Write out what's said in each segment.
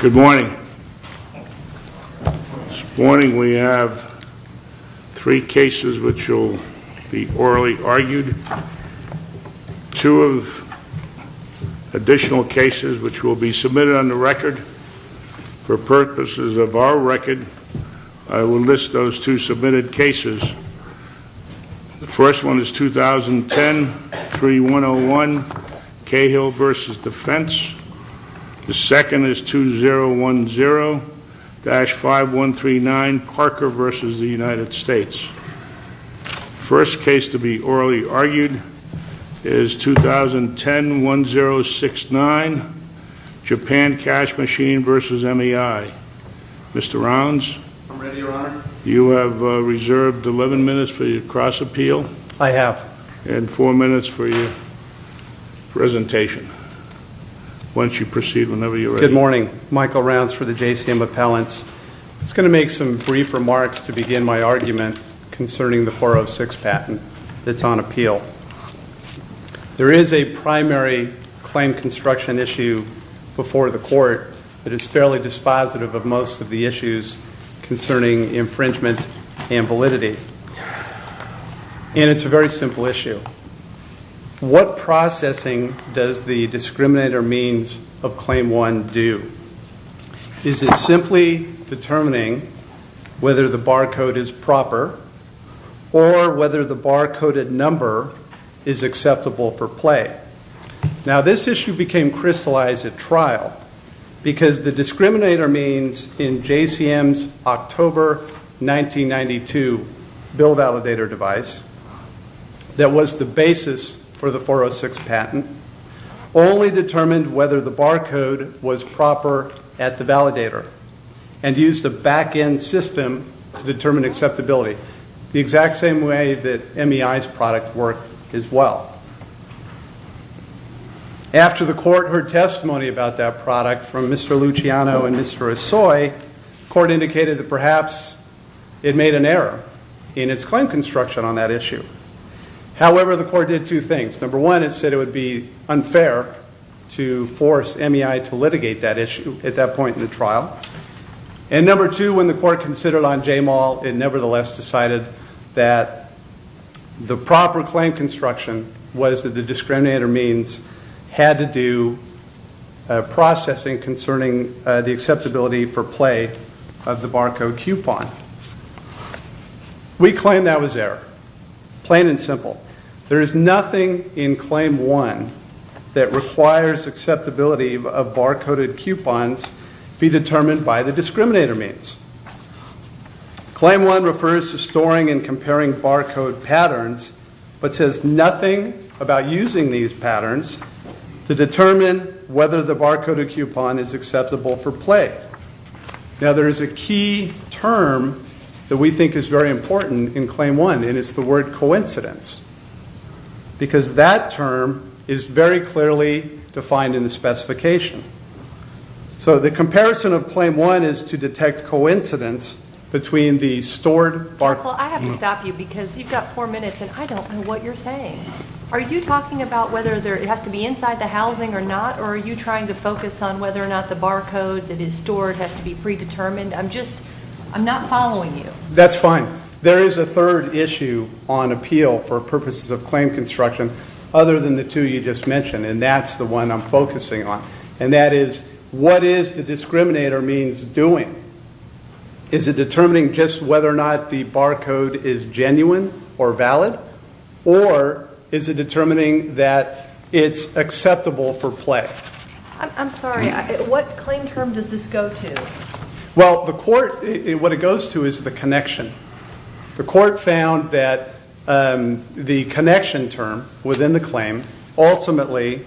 Good morning. This morning we have three cases which will be orally argued, two of additional cases which will be submitted on the record. For purposes of our record, I will list those two submitted cases. The first one is 2010-3101, Cahill v. Defense. The second is 2010-5139, Parker v. the United States. The first case to be orally argued is 2010-1069, JAPAN CASH MACHINE. I have reserved 11 minutes for your cross-appeal and four minutes for your presentation. Once you proceed, whenever you're ready. MR. RAUNCE Good morning. Michael Raunce for the JCM Appellants. I'm just going to make some brief remarks to begin my argument concerning the 406 patent that's on appeal. There is a primary claim construction issue before the court that is fairly dispositive of most of the issues concerning infringement and validity. And it's a very simple issue. What processing does the discriminator means of Claim 1 do? Is it simply determining whether the barcode is proper or whether the barcoded number is acceptable for play? Now this issue crystallized at trial because the discriminator means in JCM's October 1992 bill validator device that was the basis for the 406 patent only determined whether the barcode was proper at the validator and used a back-end system to determine acceptability, the exact same way that MEI's product worked as well. After the court heard testimony about that product from Mr. Luciano and Mr. Esoy, the court indicated that perhaps it made an error in its claim construction on that issue. However, the court did two things. Number one, it said it would be unfair to force MEI to litigate that issue at that point in the trial. And number two, when the court considered on JMAL, it nevertheless decided that the proper claim construction was that the discriminator means had to do processing concerning the acceptability for play of the barcode coupon. We claim that was error, plain and simple. There is nothing in Claim 1 that requires acceptability of barcoded coupons be determined by the discriminator means. Claim 1 refers to storing and comparing barcode patterns, but says nothing about using these patterns to determine whether the barcoded coupon is acceptable for play. Now there is a key term that we think is very important in Claim 1, and it's the word coincidence. Because that term is very clearly defined in the specification. So the comparison of correct coincidence between the stored barcode coupon. Well, I have to stop you because you've got four minutes and I don't know what you're saying. Are you talking about whether it has to be inside the housing or not, or are you trying to focus on whether or not the barcode that is stored has to be predetermined? I'm just, I'm not following you. That's fine. There is a third issue on appeal for purposes of claim construction other than the two you just mentioned, and that's the one I'm focusing on. And that is, what is the discriminator means doing? Is it determining just whether or not the barcode is genuine or valid, or is it determining that it's acceptable for play? I'm sorry, what claim term does this go to? Well, the court, what it goes to is the connection. The court found that the connection term within the claim ultimately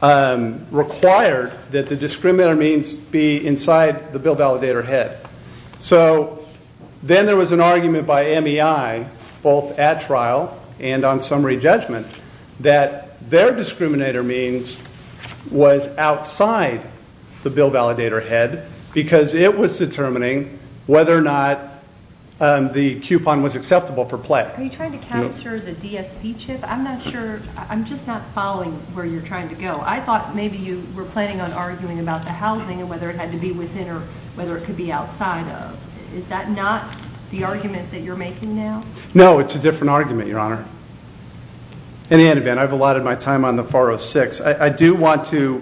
required that the discriminator means be inside the bill validator head. So then there was an argument by MEI, both at trial and on summary judgment, that their discriminator means was outside the bill validator head because it was determining whether or not the coupon was acceptable for play. Are you trying to capture the DSP chip? I'm not sure, I'm just not following where you're trying to go. I thought maybe you were planning on arguing about the housing and whether it had to be within or whether it could be outside of. Is that not the argument that you're making now? No, it's a different argument, Your Honor. In the end event, I've allotted my time on the 406. I do want to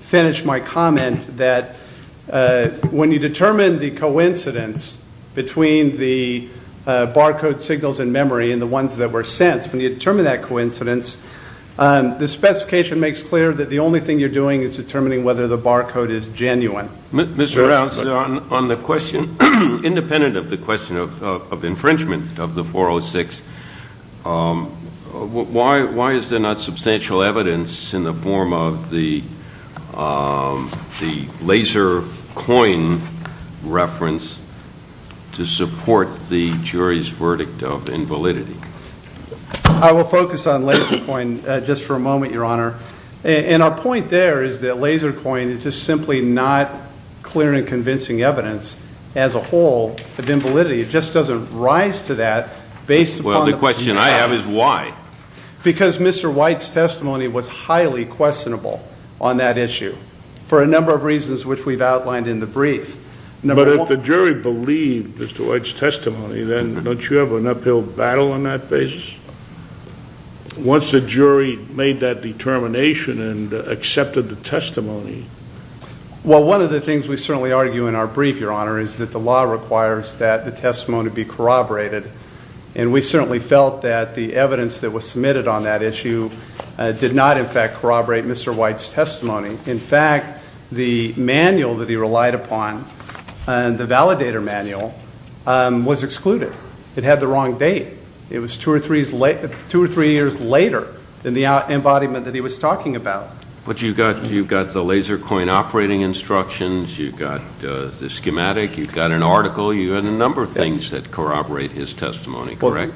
finish my comment that when you determine the coincidence between the barcode signals in memory and the ones that were sensed, when you determine that coincidence, the specification makes clear that the only thing you're doing is determining whether the barcode is genuine. Mr. Rouse, on the question, independent of the question of infringement of the 406, why is there not substantial evidence in the form of the LaserCoin reference to support the jury's verdict of invalidity? I will focus on LaserCoin just for a moment, Your Honor. And our point there is that LaserCoin is just simply not clear and convincing evidence as a whole of invalidity. It just doesn't rise to that based upon the fact that— Well, the question I have is why? Because Mr. White's testimony was highly questionable on that issue for a number of reasons which we've outlined in the brief. Number one— But if the jury believed Mr. White's testimony, then don't you have an uphill battle on that basis? Once the jury made that determination and accepted the testimony— Well, one of the things we certainly argue in our brief, Your Honor, is that the law requires that the testimony be corroborated. And we certainly felt that the evidence that was submitted on that issue did not, in fact, corroborate Mr. White's testimony. In fact, the manual that he relied upon, the validator manual, was excluded. It had the wrong date. It was two or three years later than the embodiment that he was talking about. But you've got the LaserCoin operating instructions. You've got the schematic. You've got an article. You've got a number of things that corroborate his testimony, correct?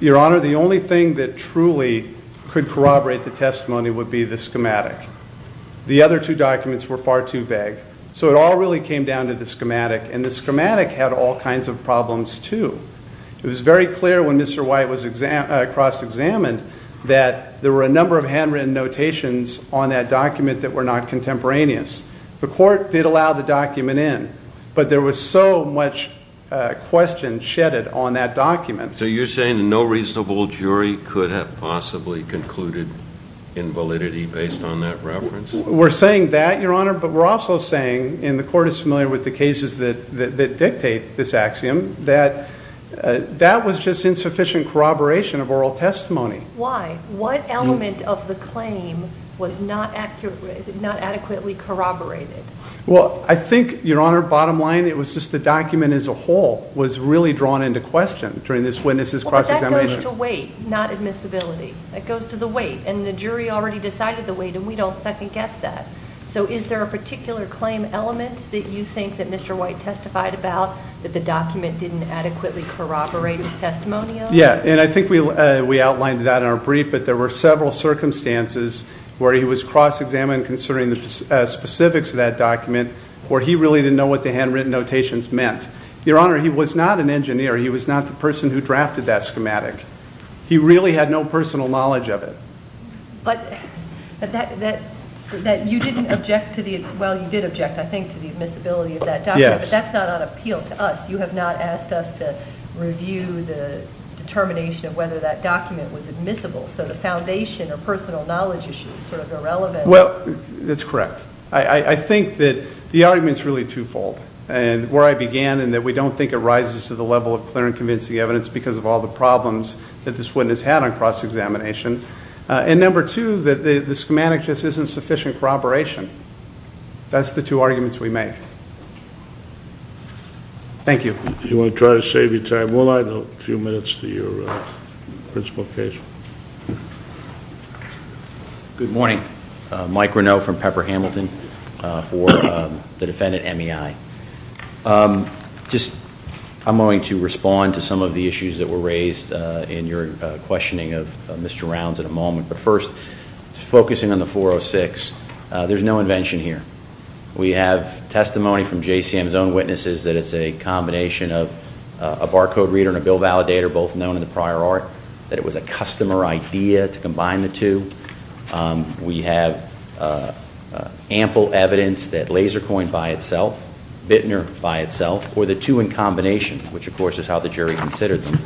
Your Honor, the only thing that truly could corroborate the testimony would be the schematic. The other two documents were far too vague. So it all really came down to the schematic. And the schematic had all kinds of problems too. It was very clear when Mr. White was cross-examined that there were a number of handwritten notations on that document that were not contemporaneous. The court did allow the document in. But there was so much question shedded on that document. So you're saying no reasonable jury could have possibly concluded invalidity based on that reference? We're saying that, Your Honor. But we're also saying, and the court is familiar with the cases that dictate this axiom, that that was just insufficient corroboration of oral testimony. Why? What element of the claim was not adequately corroborated? Well, I think, Your Honor, bottom line, it was just the document as a whole was really drawn into question during this witness's cross-examination. But that goes to weight, not admissibility. It goes to the weight. And the jury already decided the weight. And we don't second guess that. So is there a particular claim element that you think that Mr. White testified about that the document didn't adequately corroborate his testimonial? Yeah. And I think we outlined that in our brief. But there were several circumstances where he was cross-examined considering the specifics of that document where he really didn't know what the handwritten notations meant. Your Honor, he was not an engineer. He was not the person who drafted that schematic. He really had no personal knowledge of it. But that you didn't object to the, well, you did object, I think, to the admissibility of that document. But that's not on appeal to us. You have not asked us to review the determination of whether that document was admissible. So the foundation or personal knowledge issue is sort of irrelevant. Well, that's correct. I think that the argument's really twofold. And where I began in that we don't think it rises to the level of clear and convincing evidence because of all the problems that this witness had on cross-examination. And number two, that the schematic just isn't sufficient corroboration. That's the two arguments we make. Thank you. You want to try to save your time, will I? A few minutes to your principal case. Good morning. Mike Renaud from Pepper Hamilton for the defendant, MEI. Just, I'm going to respond to some of the issues that were raised in your questioning of Mr. Rounds in a moment. But first, focusing on the 406, there's no invention here. We have testimony from JCM's own witnesses that it's a combination of a barcode reader and a bill validator, both known in the prior art, that it was a customer idea to combine the two. We have ample evidence that LaserCoin by itself, Bittner by itself, or the two in combination, which of course is how the jury considered them,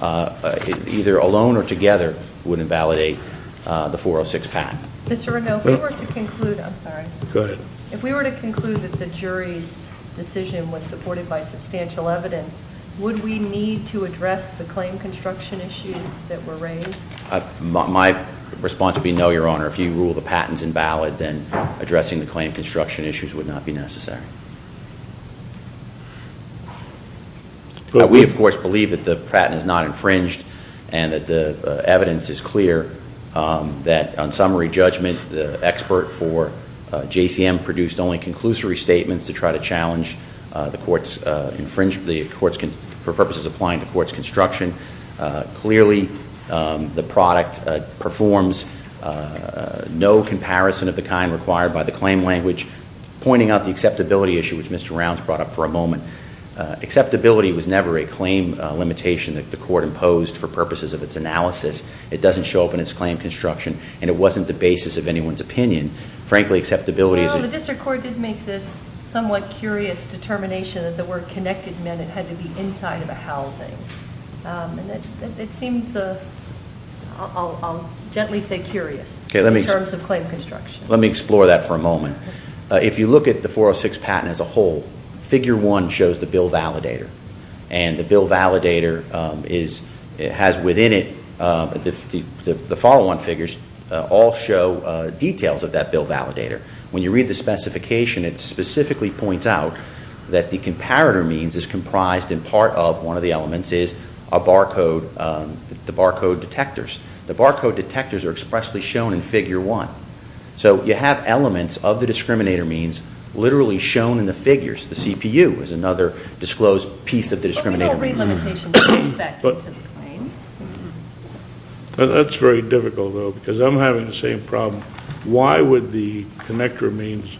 either alone or together wouldn't validate the 406 patent. Mr. Renaud, if we were to conclude, I'm sorry. Go ahead. If we were to conclude that the jury's decision was supported by substantial evidence, would we need to address the claim construction issues that were raised? My response would be no, Your Honor. If you rule the patent's invalid, then addressing the claim construction issues would not be necessary. We of course believe that the patent is not infringed and that the evidence is clear that on summary judgment, the expert for JCM produced only conclusory statements to try to challenge the court's infringement for purposes applying to court's construction. Clearly, the product performs no comparison of the kind required by the claim language. Pointing out the acceptability issue, which Mr. Rounds brought up for a moment, acceptability was never a claim limitation that the court imposed for purposes of its construction, and it wasn't the basis of anyone's opinion. Frankly, acceptability is a... The district court did make this somewhat curious determination that the word connected meant it had to be inside of a housing. It seems, I'll gently say curious in terms of claim construction. Let me explore that for a moment. If you look at the 406 patent as a whole, figure one shows the bill validator. And the bill validator is... It has within it, the follow on figures all show details of that bill validator. When you read the specification, it specifically points out that the comparator means is comprised in part of one of the elements is a barcode, the barcode detectors. The barcode detectors are expressly shown in figure one. So you have elements of the discriminator means literally shown in the figures. The CPU is another disclosed piece of the discriminator. But we don't read limitations of respect into the claims. That's very difficult though, because I'm having the same problem. Why would the connector means,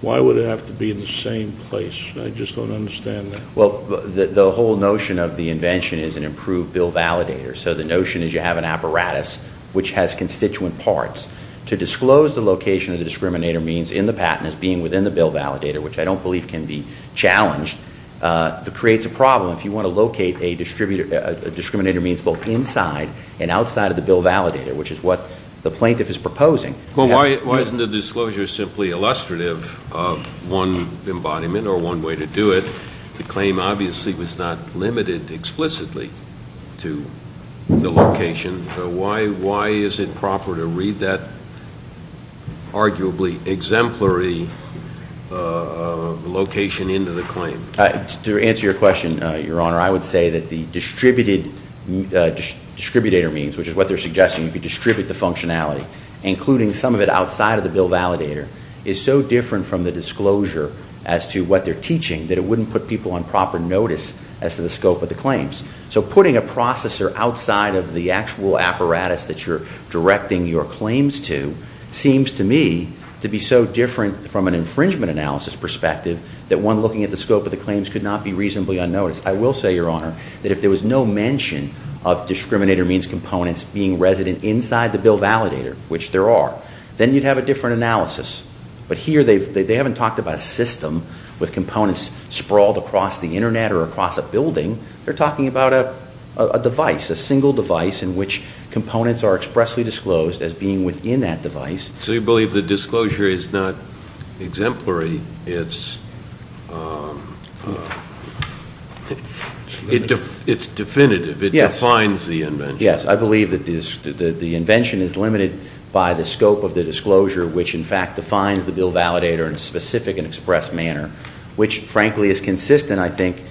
why would it have to be in the same place? I just don't understand that. Well, the whole notion of the invention is an improved bill validator. So the notion is you have an apparatus which has constituent parts to disclose the location of the discriminator means in the patent as being within the bill validator, which I don't believe can be challenged, that creates a problem. If you want to locate a discriminator means both inside and outside of the bill validator, which is what the plaintiff is proposing. Well, why isn't the disclosure simply illustrative of one embodiment or one way to do it? The claim obviously was not limited explicitly to the location. Why is it proper to read that arguably exemplary location into the claim? To answer your question, Your Honor, I would say that the distributator means, which is what they're suggesting, if you distribute the functionality, including some of it outside of the bill validator, is so different from the disclosure as to what they're teaching that it wouldn't put people on proper notice as to the scope of the claims. So putting a processor outside of the actual apparatus that you're directing your claims to, seems to me to be so different from an infringement analysis perspective that one looking at the scope of the claims could not be reasonably unnoticed. I will say, Your Honor, that if there was no mention of discriminator means components being resident inside the bill validator, which there are, then you'd have a different analysis. But here they haven't talked about a system with components sprawled across the internet or across a building, they're talking about a device, a single device in which components are expressly disclosed as being within that device. So you believe the disclosure is not exemplary, it's definitive, it defines the invention? Yes, I believe that the invention is limited by the scope of the disclosure, which in fact defines the bill validator in a specific and express manner, which frankly is consistent, I think,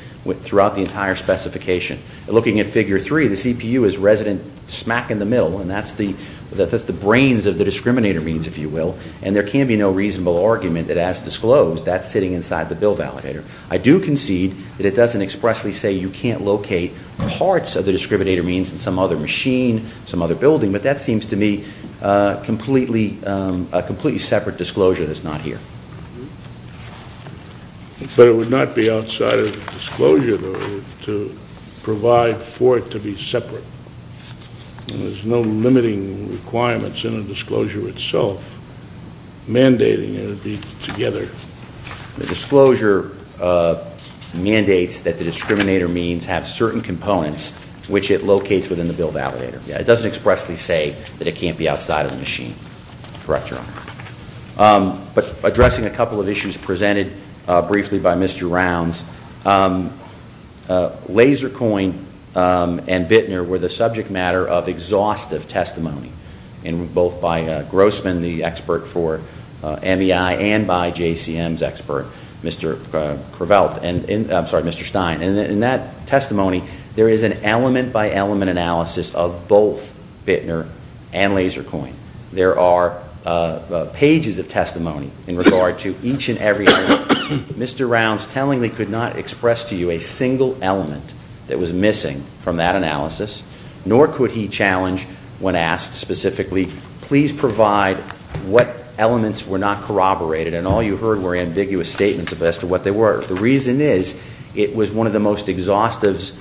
throughout the entire specification. Looking at figure three, the CPU is resident smack in the middle and that's the brains of the discriminator means, if you will, and there can be no reasonable argument that as disclosed that's sitting inside the bill validator. I do concede that it doesn't expressly say you can't locate parts of the discriminator means in some other machine, some other building, but that seems to me a completely separate disclosure that's not here. But it would not be outside of the disclosure to provide for it to be separate. There's no limiting requirements in the disclosure itself, mandating it to be together. The disclosure mandates that the discriminator means have certain components which it locates within the bill validator. Yeah, it doesn't expressly say that it can't be outside of the machine, correct, Your Honor? But addressing a couple of issues presented briefly by Mr. Rounds, LaserCoin and Bittner were the subject matter of exhaustive testimony in both by Grossman, the expert for MEI, and by JCM's expert, Mr. Prevelt, and I'm sorry, Mr. Stein, and in that testimony there is an element by element analysis of both Bittner and LaserCoin. There are pages of testimony in regard to each and every element. Mr. Rounds tellingly could not express to you a single element that was missing from that analysis, nor could he challenge when asked specifically, please provide what elements were not corroborated and all you heard were ambiguous statements as to what they were. The reason is it was one of the most exhaustive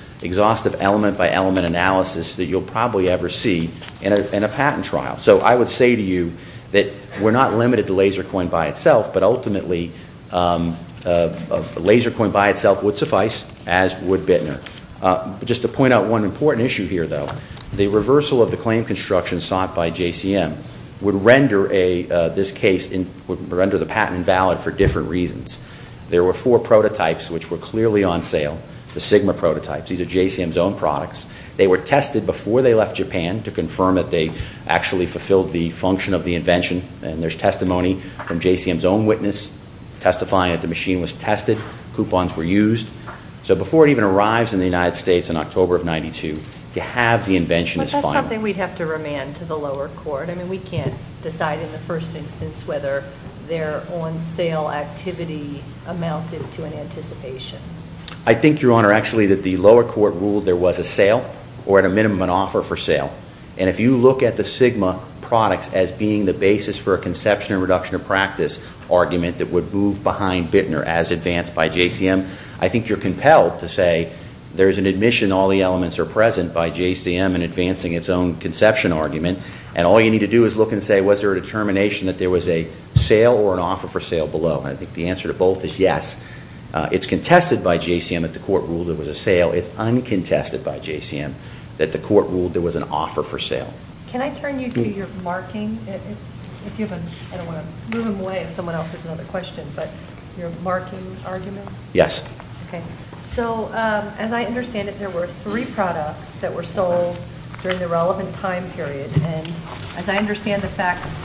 element by element analysis that you'll probably ever see in a patent trial. So I would say to you that we're not limited to LaserCoin by itself, but ultimately LaserCoin by itself would suffice as would Bittner. Just to point out one important issue here though, the reversal of the claim construction sought by JCM would render this case, would render the patent invalid for different reasons. There were four prototypes which were clearly on sale, the Sigma prototypes. These are JCM's own products. They were tested before they left Japan to confirm that they actually fulfilled the function of the invention. And there's testimony from JCM's own witness testifying that the machine was tested, coupons were used. So before it even arrives in the United States in October of 92, to have the invention is final. But that's something we'd have to remand to the lower court. I mean we can't decide in the first instance whether their on sale activity amounted to an anticipation. I think, Your Honor, actually that the lower court ruled there was a sale or at a minimum an offer for sale. And if you look at the Sigma products as being the basis for a conception or reduction of practice argument that would move behind Bittner as advanced by JCM, I think you're compelled to say there's an admission all the elements are present by JCM in advancing its own conception argument. And all you need to do is look and say was there a determination that there was a sale or an offer for sale below. And I think the answer to both is yes. It's contested by JCM that the court ruled there was a sale. It's uncontested by JCM that the court ruled there was an offer for sale. Can I turn you to your marking? I don't want to move him away if someone else has another question. But your marking argument? Yes. Okay. So as I understand it, there were three products that were sold during the relevant time period. And as I understand the facts,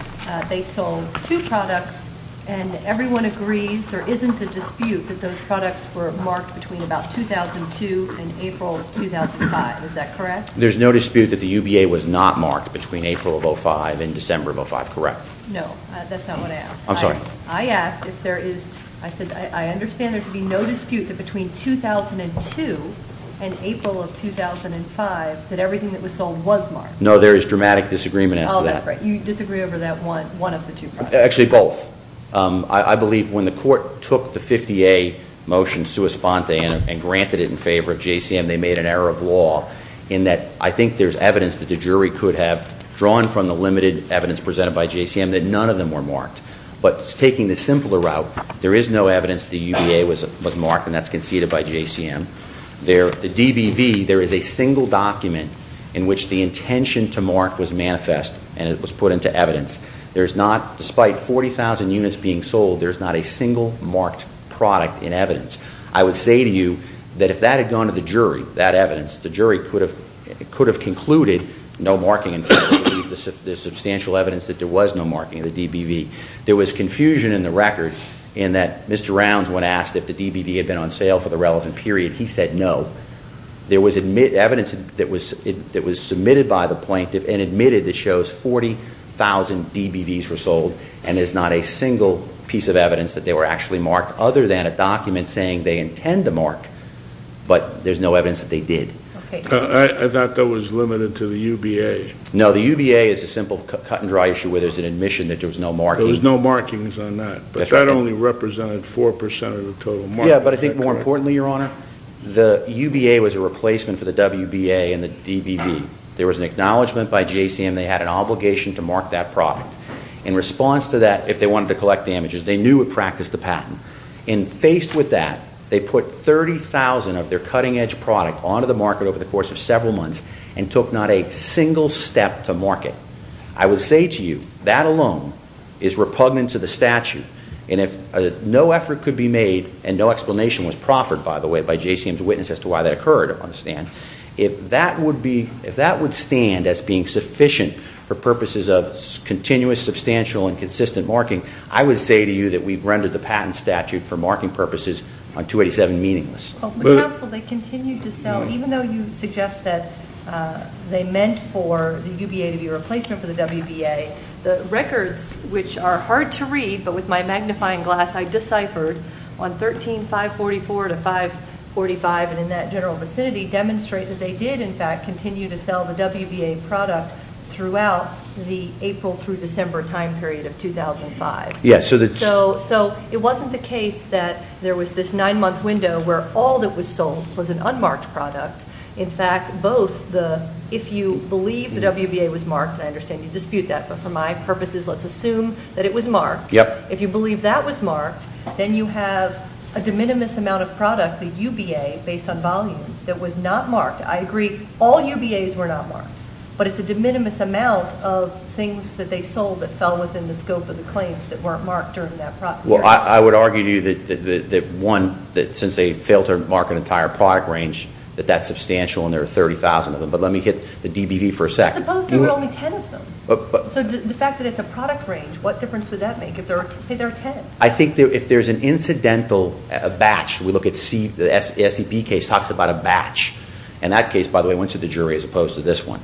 they sold two products and everyone agrees there isn't a dispute that those products were marked between about 2002 and April 2005, is that correct? There's no dispute that the UBA was not marked between April of 05 and December of 05, correct? No, that's not what I asked. I'm sorry. I asked if there is, I said I understand there could be no dispute that between 2002 and April of 2005 that everything that was sold was marked. No, there is dramatic disagreement as to that. Oh, that's right. You disagree over that one of the two products. Actually, both. I believe when the court took the 50A motion sui sponte and granted it in favor of JCM, they made an error of law in that I think there's evidence that the jury could have drawn from the limited evidence presented by JCM that none of them were marked. But taking the simpler route, there is no evidence the UBA was marked and that's conceded by JCM. There, the DBV, there is a single document in which the intention to mark was manifest and it was put into evidence. There's not, despite 40,000 units being sold, there's not a single marked product in evidence. I would say to you that if that had gone to the jury, that evidence, the jury could have concluded no marking in favor of the substantial evidence that there was no marking in the DBV. There was confusion in the record in that Mr. Rounds, when asked if the DBV had been on sale for the relevant period, he said no. There was evidence that was submitted by the plaintiff and admitted that shows 40,000 DBVs were sold and there's not a single piece of evidence that they were actually marked other than a document saying they intend to mark. But there's no evidence that they did. I thought that was limited to the UBA. No, the UBA is a simple cut and dry issue where there's an admission that there was no marking. There was no markings on that. But that only represented 4% of the total mark. Yeah, but I think more importantly, Your Honor, the UBA was a replacement for the WBA and the DBV. There was an acknowledgment by JCM they had an obligation to mark that product. In response to that, if they wanted to collect damages, they knew and practiced the patent. And faced with that, they put 30,000 of their cutting edge product onto the market over the course of several months and took not a single step to mark it. I would say to you, that alone is repugnant to the statute. And if no effort could be made and no explanation was proffered, by the way, to witness as to why that occurred on the stand, if that would be, if that would stand as being sufficient for purposes of continuous, substantial, and consistent marking, I would say to you that we've rendered the patent statute for marking purposes on 287 meaningless. But counsel, they continued to sell, even though you suggest that they meant for the UBA to be a replacement for the WBA, the records, which are hard to read, but with my magnifying glass, I deciphered on 13, 544 to 545, and in that general vicinity, demonstrate that they did, in fact, continue to sell the WBA product throughout the April through December time period of 2005. So it wasn't the case that there was this nine month window where all that was sold was an unmarked product. In fact, both the, if you believe the WBA was marked, and I understand you dispute that, but for my purposes, let's assume that it was marked. If you believe that was marked, then you have a de minimis amount of product, the UBA, based on volume, that was not marked. I agree, all UBAs were not marked. But it's a de minimis amount of things that they sold that fell within the scope of the claims that weren't marked during that period. Well, I would argue to you that one, that since they failed to mark an entire product range, that that's substantial, and there are 30,000 of them. But let me hit the DBV for a second. Suppose there were only 10 of them. So the fact that it's a product range, what difference would that make if there are, say there are 10? I think if there's an incidental batch, we look at C, the SEB case talks about a batch. In that case, by the way, I went to the jury as opposed to this one.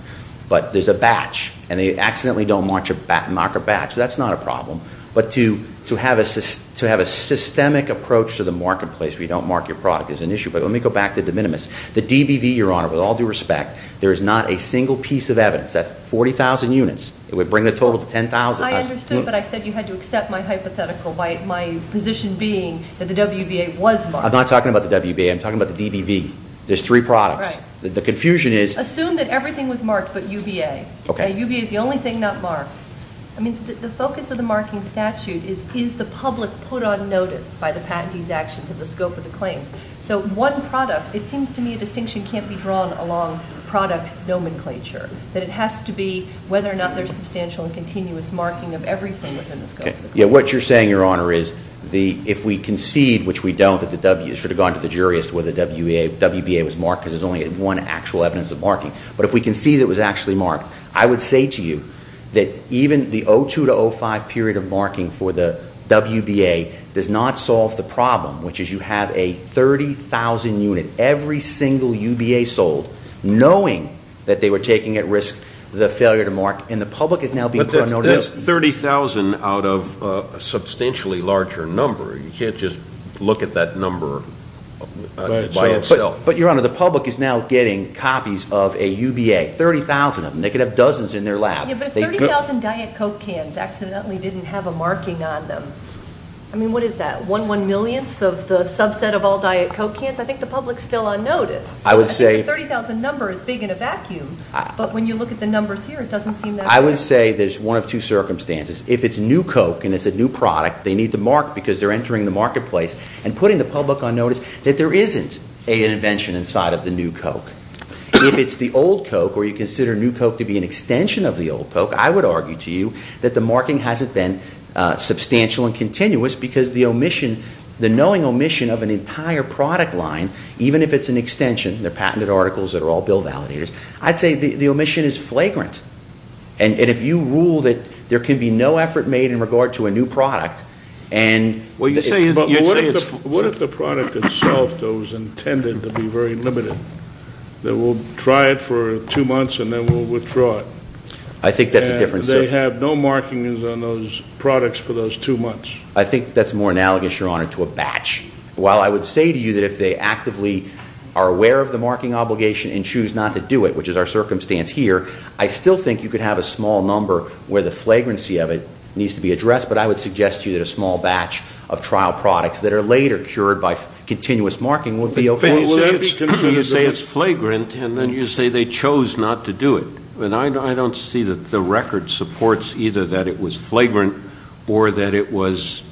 But there's a batch, and they accidentally don't mark a batch. That's not a problem. But to have a systemic approach to the marketplace where you don't mark your product is an issue. But let me go back to de minimis. The DBV, Your Honor, with all due respect, there is not a single piece of evidence. That's 40,000 units. It would bring the total to 10,000. I understood, but I said you had to accept my hypothetical, my position being that the WBA was marked. I'm not talking about the WBA, I'm talking about the DBV. There's three products. The confusion is- Assume that everything was marked but UVA. Okay. UVA is the only thing not marked. I mean, the focus of the marking statute is, is the public put on notice by the patentee's actions of the scope of the claims? So one product, it seems to me a distinction can't be drawn along product nomenclature. That it has to be whether or not there's substantial and continuous marking of everything within the scope of the claim. Yeah, what you're saying, Your Honor, is if we concede, which we don't, that the W, it should have gone to the jury as to whether the WBA was marked because there's only one actual evidence of marking. But if we concede it was actually marked, I would say to you that even the 02-05 period of marking for the WBA does not solve the problem, which is you have a 30,000 unit, every single UBA sold, knowing that they were taking at risk the failure to mark. And the public is now being put on notice- That's 30,000 out of a substantially larger number. You can't just look at that number by itself. But, Your Honor, the public is now getting copies of a UBA, 30,000 of them. They could have dozens in their lab. Yeah, but if 30,000 Diet Coke cans accidentally didn't have a marking on them, I mean, what is that? One one millionth of the subset of all Diet Coke cans? I think the public's still on notice. I would say- I think the 30,000 number is big in a vacuum, but when you look at the numbers here, it doesn't seem that way. I would say there's one of two circumstances. If it's new Coke and it's a new product, they need to mark because they're entering the marketplace and putting the public on notice that there isn't an invention inside of the new Coke. If it's the old Coke, or you consider new Coke to be an extension of the old Coke, I would argue to you that the marking hasn't been substantial and the knowing omission of an entire product line, even if it's an extension, they're patented articles that are all bill validators. I'd say the omission is flagrant. And if you rule that there can be no effort made in regard to a new product, and- Well, you'd say it's- What if the product itself, though, is intended to be very limited? That we'll try it for two months and then we'll withdraw it. I think that's a different- And they have no markings on those products for those two months. I think that's more analogous, Your Honor, to a batch. While I would say to you that if they actively are aware of the marking obligation and choose not to do it, which is our circumstance here, I still think you could have a small number where the flagrancy of it needs to be addressed. But I would suggest to you that a small batch of trial products that are later cured by continuous marking would be okay. But you say it's flagrant, and then you say they chose not to do it. And I don't see that the record supports either that it was flagrant or that it was,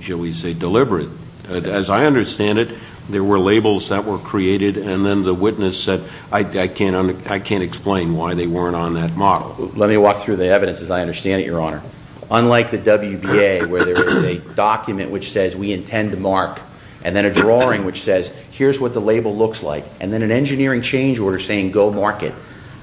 shall we say, deliberate. As I understand it, there were labels that were created, and then the witness said, I can't explain why they weren't on that model. Let me walk through the evidence as I understand it, Your Honor. Unlike the WBA, where there is a document which says we intend to mark, and then a drawing which says here's what the label looks like, and then an engineering change order saying go mark it.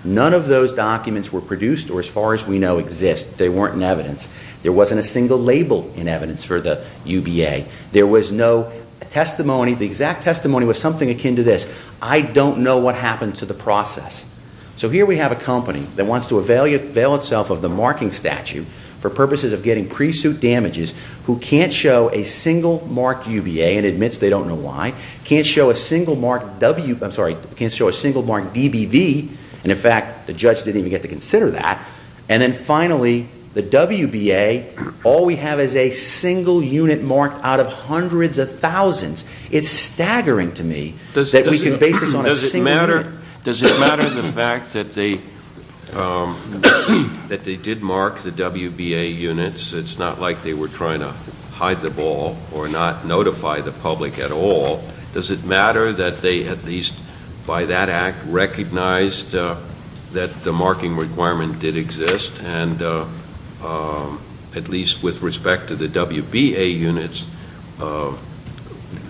None of those documents were produced or as far as we know exist. They weren't in evidence. There wasn't a single label in evidence for the UBA. There was no testimony. The exact testimony was something akin to this. I don't know what happened to the process. So here we have a company that wants to avail itself of the marking statute for purposes of getting pre-suit damages who can't show a single mark UBA and admits they don't know why. Can't show a single mark W, I'm sorry, can't show a single mark DBV, and in fact, the judge didn't even get to consider that. And then finally, the WBA, all we have is a single unit marked out of hundreds of thousands. It's staggering to me that we can base this on a single unit. Does it matter the fact that they did mark the WBA units? It's not like they were trying to hide the ball or not notify the public at all. Does it matter that they, at least by that act, recognized that the marking requirement did exist? And at least with respect to the WBA units,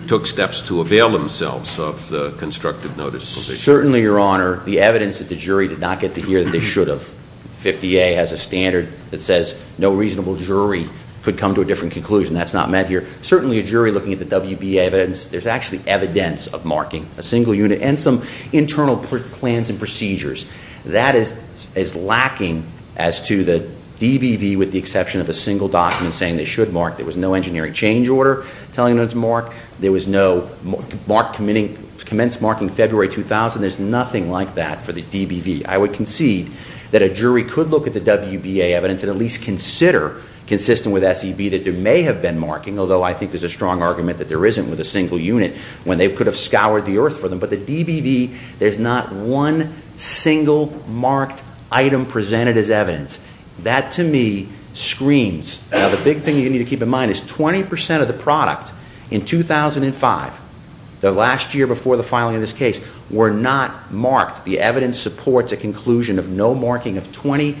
took steps to avail themselves of the constructive notice. Certainly, your honor, the evidence that the jury did not get to hear that they should have. 50A has a standard that says no reasonable jury could come to a different conclusion. That's not met here. Certainly, a jury looking at the WBA evidence, there's actually evidence of marking a single unit and some internal plans and procedures. That is lacking as to the DBV with the exception of a single document saying they should mark. There was no engineering change order telling them to mark. There was no mark committing, commence marking February 2000, there's nothing like that for the DBV. I would concede that a jury could look at the WBA evidence and at least consider consistent with SEB that there may have been marking. Although I think there's a strong argument that there isn't with a single unit when they could have scoured the earth for them. But the DBV, there's not one single marked item presented as evidence. That to me screams, now the big thing you need to keep in mind is 20% of the product in 2005, the last year before the filing of this case, were not marked. The evidence supports a conclusion of no marking of 20%.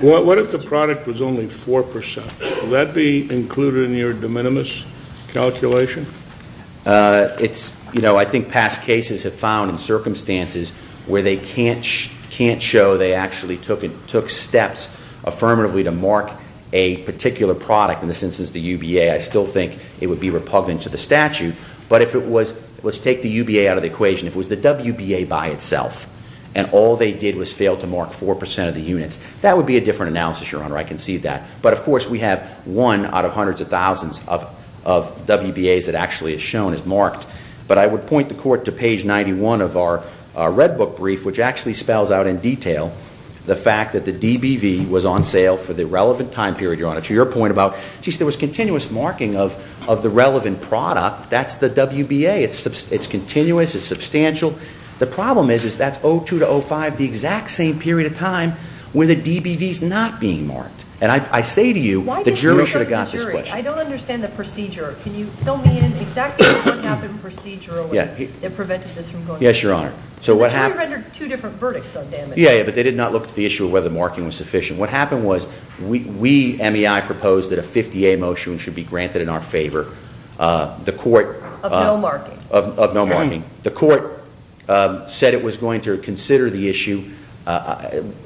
What if the product was only 4%? Would that be included in your de minimis calculation? I think past cases have found in circumstances where they can't show they actually took steps affirmatively to mark a particular product, in this instance the UBA, I still think it would be repugnant to the statute. But if it was, let's take the UBA out of the equation, if it was the WBA by itself, and all they did was fail to mark 4% of the units, that would be a different analysis, Your Honor, I concede that. But of course, we have one out of hundreds of thousands of WBAs that actually is shown as marked. But I would point the court to page 91 of our red book brief, which actually spells out in detail the fact that the DBV was on sale for the relevant time period, Your Honor, to your point about, geez, there was continuous marking of the relevant product, that's the WBA, it's continuous, it's substantial. The problem is, is that's 02 to 05, the exact same period of time where the DBV's not being marked. And I say to you, the jury should have got this question. I don't understand the procedure. Can you fill me in exactly on what happened procedurally that prevented this from going? Yes, Your Honor. So what happened- The jury rendered two different verdicts on damage. Yeah, yeah, but they did not look at the issue of whether marking was sufficient. What happened was, we, MEI, proposed that a 50A motion should be granted in our favor. The court- Of no marking. Of no marking. The court said it was going to consider the issue.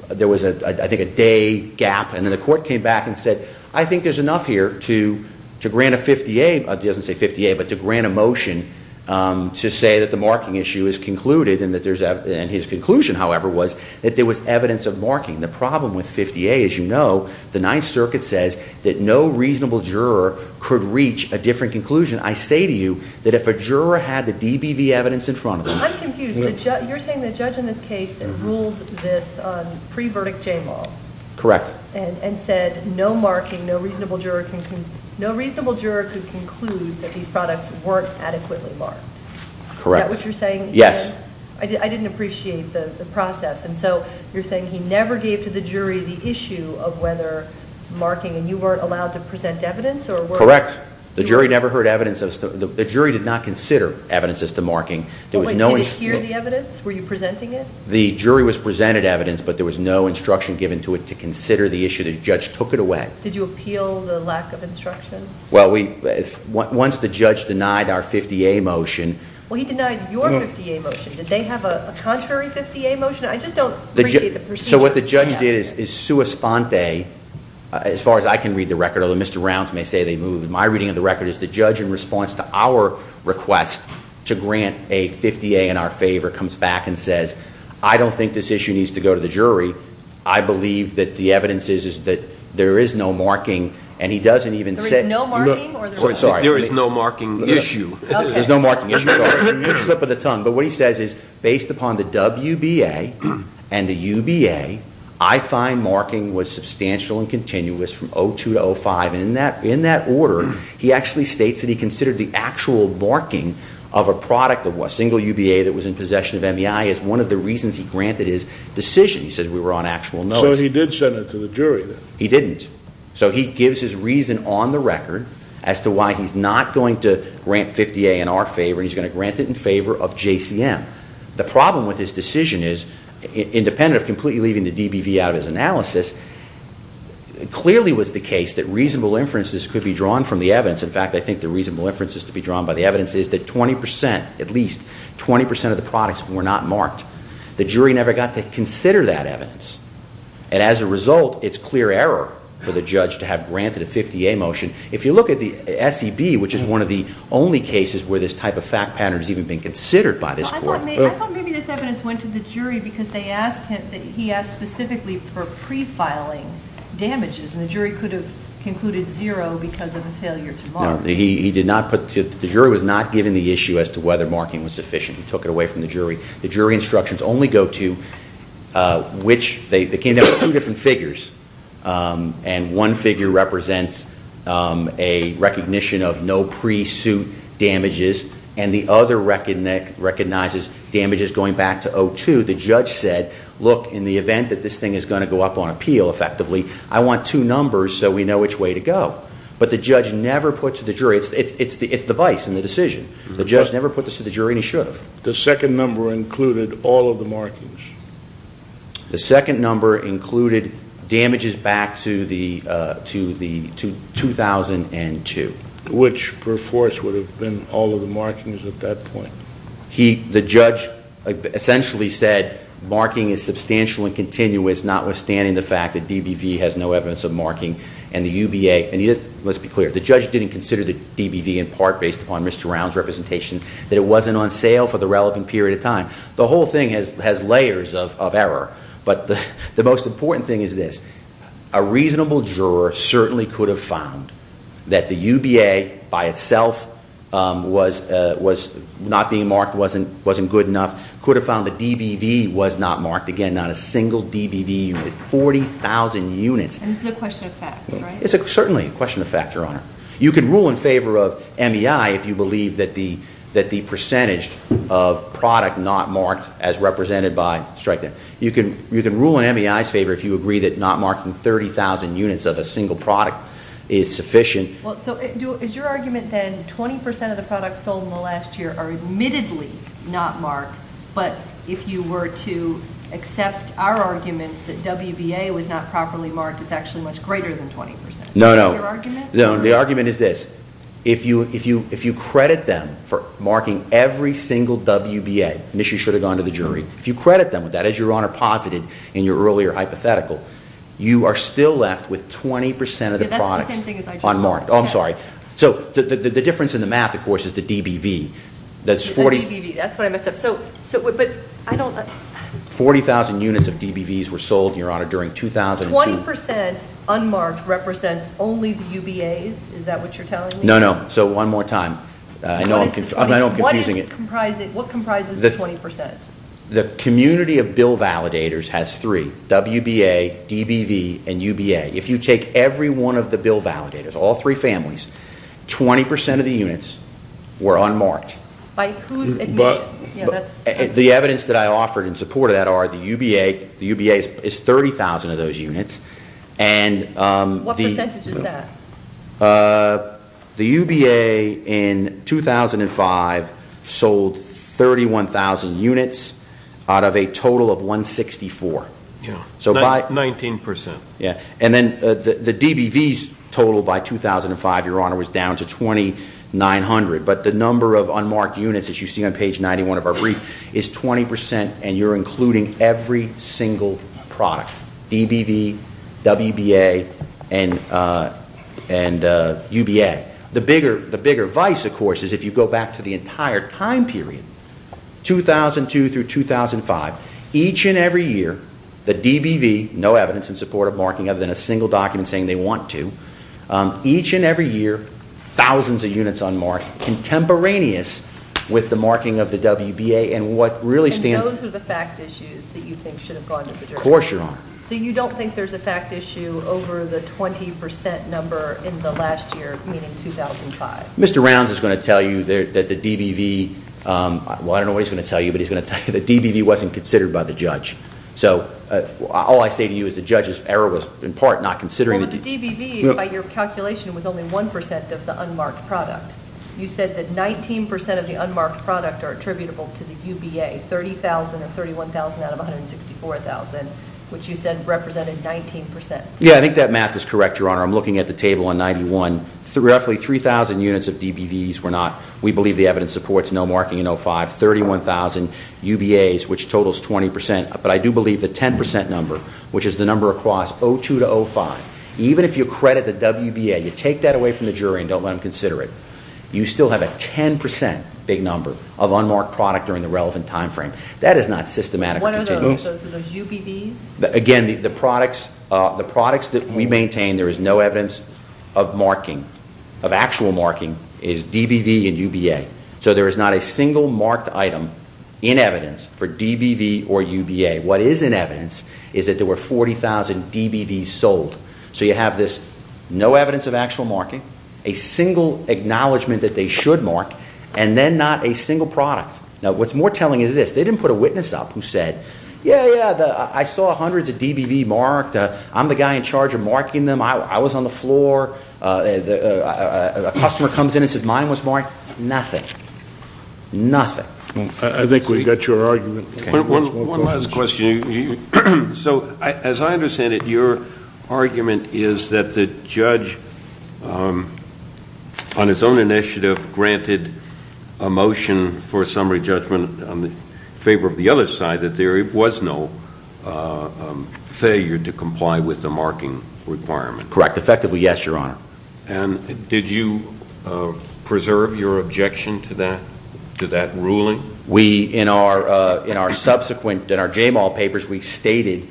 There was, I think, a day gap. And then the court came back and said, I think there's enough here to grant a 50A. It doesn't say 50A, but to grant a motion to say that the marking issue is concluded. And his conclusion, however, was that there was evidence of marking. The problem with 50A, as you know, the Ninth Circuit says that no reasonable juror could reach a different conclusion. I say to you that if a juror had the DBV evidence in front of them- I'm confused. You're saying the judge in this case that ruled this on pre-verdict J-Law. Correct. And said no marking, no reasonable juror can conclude that these products weren't adequately marked. Correct. Is that what you're saying? Yes. I didn't appreciate the process. And so, you're saying he never gave to the jury the issue of whether marking, and you weren't allowed to present evidence, or were- Correct. The jury never heard evidence of, the jury did not consider evidence as to marking. There was no- Wait, did he hear the evidence? Were you presenting it? The jury was presented evidence, but there was no instruction given to it to consider the issue. The judge took it away. Did you appeal the lack of instruction? Well, once the judge denied our 50A motion- Well, he denied your 50A motion. Did they have a contrary 50A motion? I just don't appreciate the procedure. So what the judge did is, as far as I can read the record, although Mr. Rounds may say they moved my reading of the record, is the judge, in response to our request to grant a 50A in our favor, comes back and says, I don't think this issue needs to go to the jury. I believe that the evidence is that there is no marking, and he doesn't even say- There is no marking, or there is no marking issue? There's no marking issue, sorry, slip of the tongue. But what he says is, based upon the WBA and the UBA, I find marking was substantial and continuous from 02 to 05. And in that order, he actually states that he considered the actual marking of a product of a single UBA that was in possession of MEI as one of the reasons he granted his decision. He said we were on actual notice. So he did send it to the jury, then? He didn't. So he gives his reason on the record as to why he's not going to grant 50A in our favor. He's going to grant it in favor of JCM. The problem with his decision is, independent of completely leaving the DBV out of his analysis, clearly was the case that reasonable inferences could be drawn from the evidence. In fact, I think the reasonable inferences to be drawn by the evidence is that 20%, at least 20% of the products were not marked. The jury never got to consider that evidence. And as a result, it's clear error for the judge to have granted a 50A motion. If you look at the SEB, which is one of the only cases where this type of fact pattern has even been considered by this court. I thought maybe this evidence went to the jury because they asked him, he asked specifically for pre-filing damages. And the jury could have concluded zero because of a failure to mark. No, he did not put, the jury was not given the issue as to whether marking was sufficient. He took it away from the jury. The jury instructions only go to which, they came down with two different figures. And one figure represents a recognition of no pre-suit damages. And the other recognizes damages going back to O2. The judge said, look, in the event that this thing is going to go up on appeal effectively, I want two numbers so we know which way to go. But the judge never put to the jury, it's the vice in the decision. The judge never put this to the jury and he should have. The second number included all of the markings. The second number included damages back to the 2002. Which per force would have been all of the markings at that point. The judge essentially said, marking is substantial and continuous notwithstanding the fact that DBV has no evidence of marking and the UBA. And it must be clear, the judge didn't consider the DBV in part based upon Mr. Round's representation, that it wasn't on sale for the relevant period of time. The whole thing has layers of error. But the most important thing is this, a reasonable juror certainly could have found that the UBA by itself was not being marked, wasn't good enough. Could have found the DBV was not marked. Again, not a single DBV unit, 40,000 units. And it's a question of fact, right? It's certainly a question of fact, Your Honor. You can rule in favor of MEI if you believe that the percentage of product not marked as represented by strike them. You can rule in MEI's favor if you agree that not marking 30,000 units of a single product is sufficient. Well, so is your argument that 20% of the products sold in the last year are admittedly not marked. But if you were to accept our arguments that WBA was not properly marked, it's actually much greater than 20%. No, no. No, the argument is this. If you credit them for marking every single WBA, and this should have gone to the jury. If you credit them with that, as Your Honor posited in your earlier hypothetical, you are still left with 20% of the products unmarked. I'm sorry. So the difference in the math, of course, is the DBV. That's 40- The DBV, that's what I messed up. So, but I don't- 40,000 units of DBVs were sold, Your Honor, during 2002. 20% unmarked represents only the UBAs, is that what you're telling me? No, no. So one more time. I know I'm confusing it. What comprises the 20%? The community of bill validators has three, WBA, DBV, and UBA. If you take every one of the bill validators, all three families, 20% of the units were unmarked. By whose admission? Yeah, that's- The evidence that I offered in support of that are the UBA, the UBA is 30,000 of those units. And the- What percentage is that? The UBA in 2005 sold 31,000 units out of a total of 164. Yeah. So by- 19%. Yeah. And then the DBVs totaled by 2005, Your Honor, was down to 2,900. But the number of unmarked units, as you see on page 91 of our brief, is 20%. And you're including every single product. DBV, WBA, and UBA. The bigger vice, of course, is if you go back to the entire time period, 2002 through 2005, each and every year, the DBV, no evidence in support of marking other than a single document saying they want to, each and every year, thousands of units unmarked, contemporaneous with the marking of the WBA. And what really stands- And those are the fact issues that you think should have gone to the jury. Of course, Your Honor. So you don't think there's a fact issue over the 20% number in the last year, meaning 2005? Mr. Rounds is going to tell you that the DBV, well, I don't know what he's going to tell you, but he's going to tell you the DBV wasn't considered by the judge. So all I say to you is the judge's error was in part not considering the- The DBV, by your calculation, was only 1% of the unmarked product. You said that 19% of the unmarked product are attributable to the UBA, 30,000 of 31,000 out of 164,000, which you said represented 19%. Yeah, I think that math is correct, Your Honor. I'm looking at the table on 91. Roughly 3,000 units of DBVs were not, we believe the evidence supports, no marking in 05. 31,000 UBAs, which totals 20%, but I do believe the 10% number, which is the number across 02 to 05, even if you credit the WBA, you take that away from the jury and don't let them consider it, you still have a 10% big number of unmarked product during the relevant time frame. That is not systematic. What are those, those UBVs? Again, the products that we maintain, there is no evidence of marking, of actual marking, is DBV and UBA. So there is not a single marked item in evidence for DBV or UBA. What is in evidence is that there were 40,000 DBVs sold. So you have this, no evidence of actual marking, a single acknowledgement that they should mark, and then not a single product. Now what's more telling is this, they didn't put a witness up who said, yeah, yeah, I saw hundreds of DBV marked. I'm the guy in charge of marking them. I was on the floor. A customer comes in and says, mine was marked. Nothing, nothing. I think we got your argument. One last question. So as I understand it, your argument is that the judge on his own initiative granted a motion for a summary judgment in favor of the other side that there was no failure to comply with the marking requirement. Correct, effectively, yes, your honor. And did you preserve your objection to that ruling? We, in our subsequent, in our J-Mall papers, we stated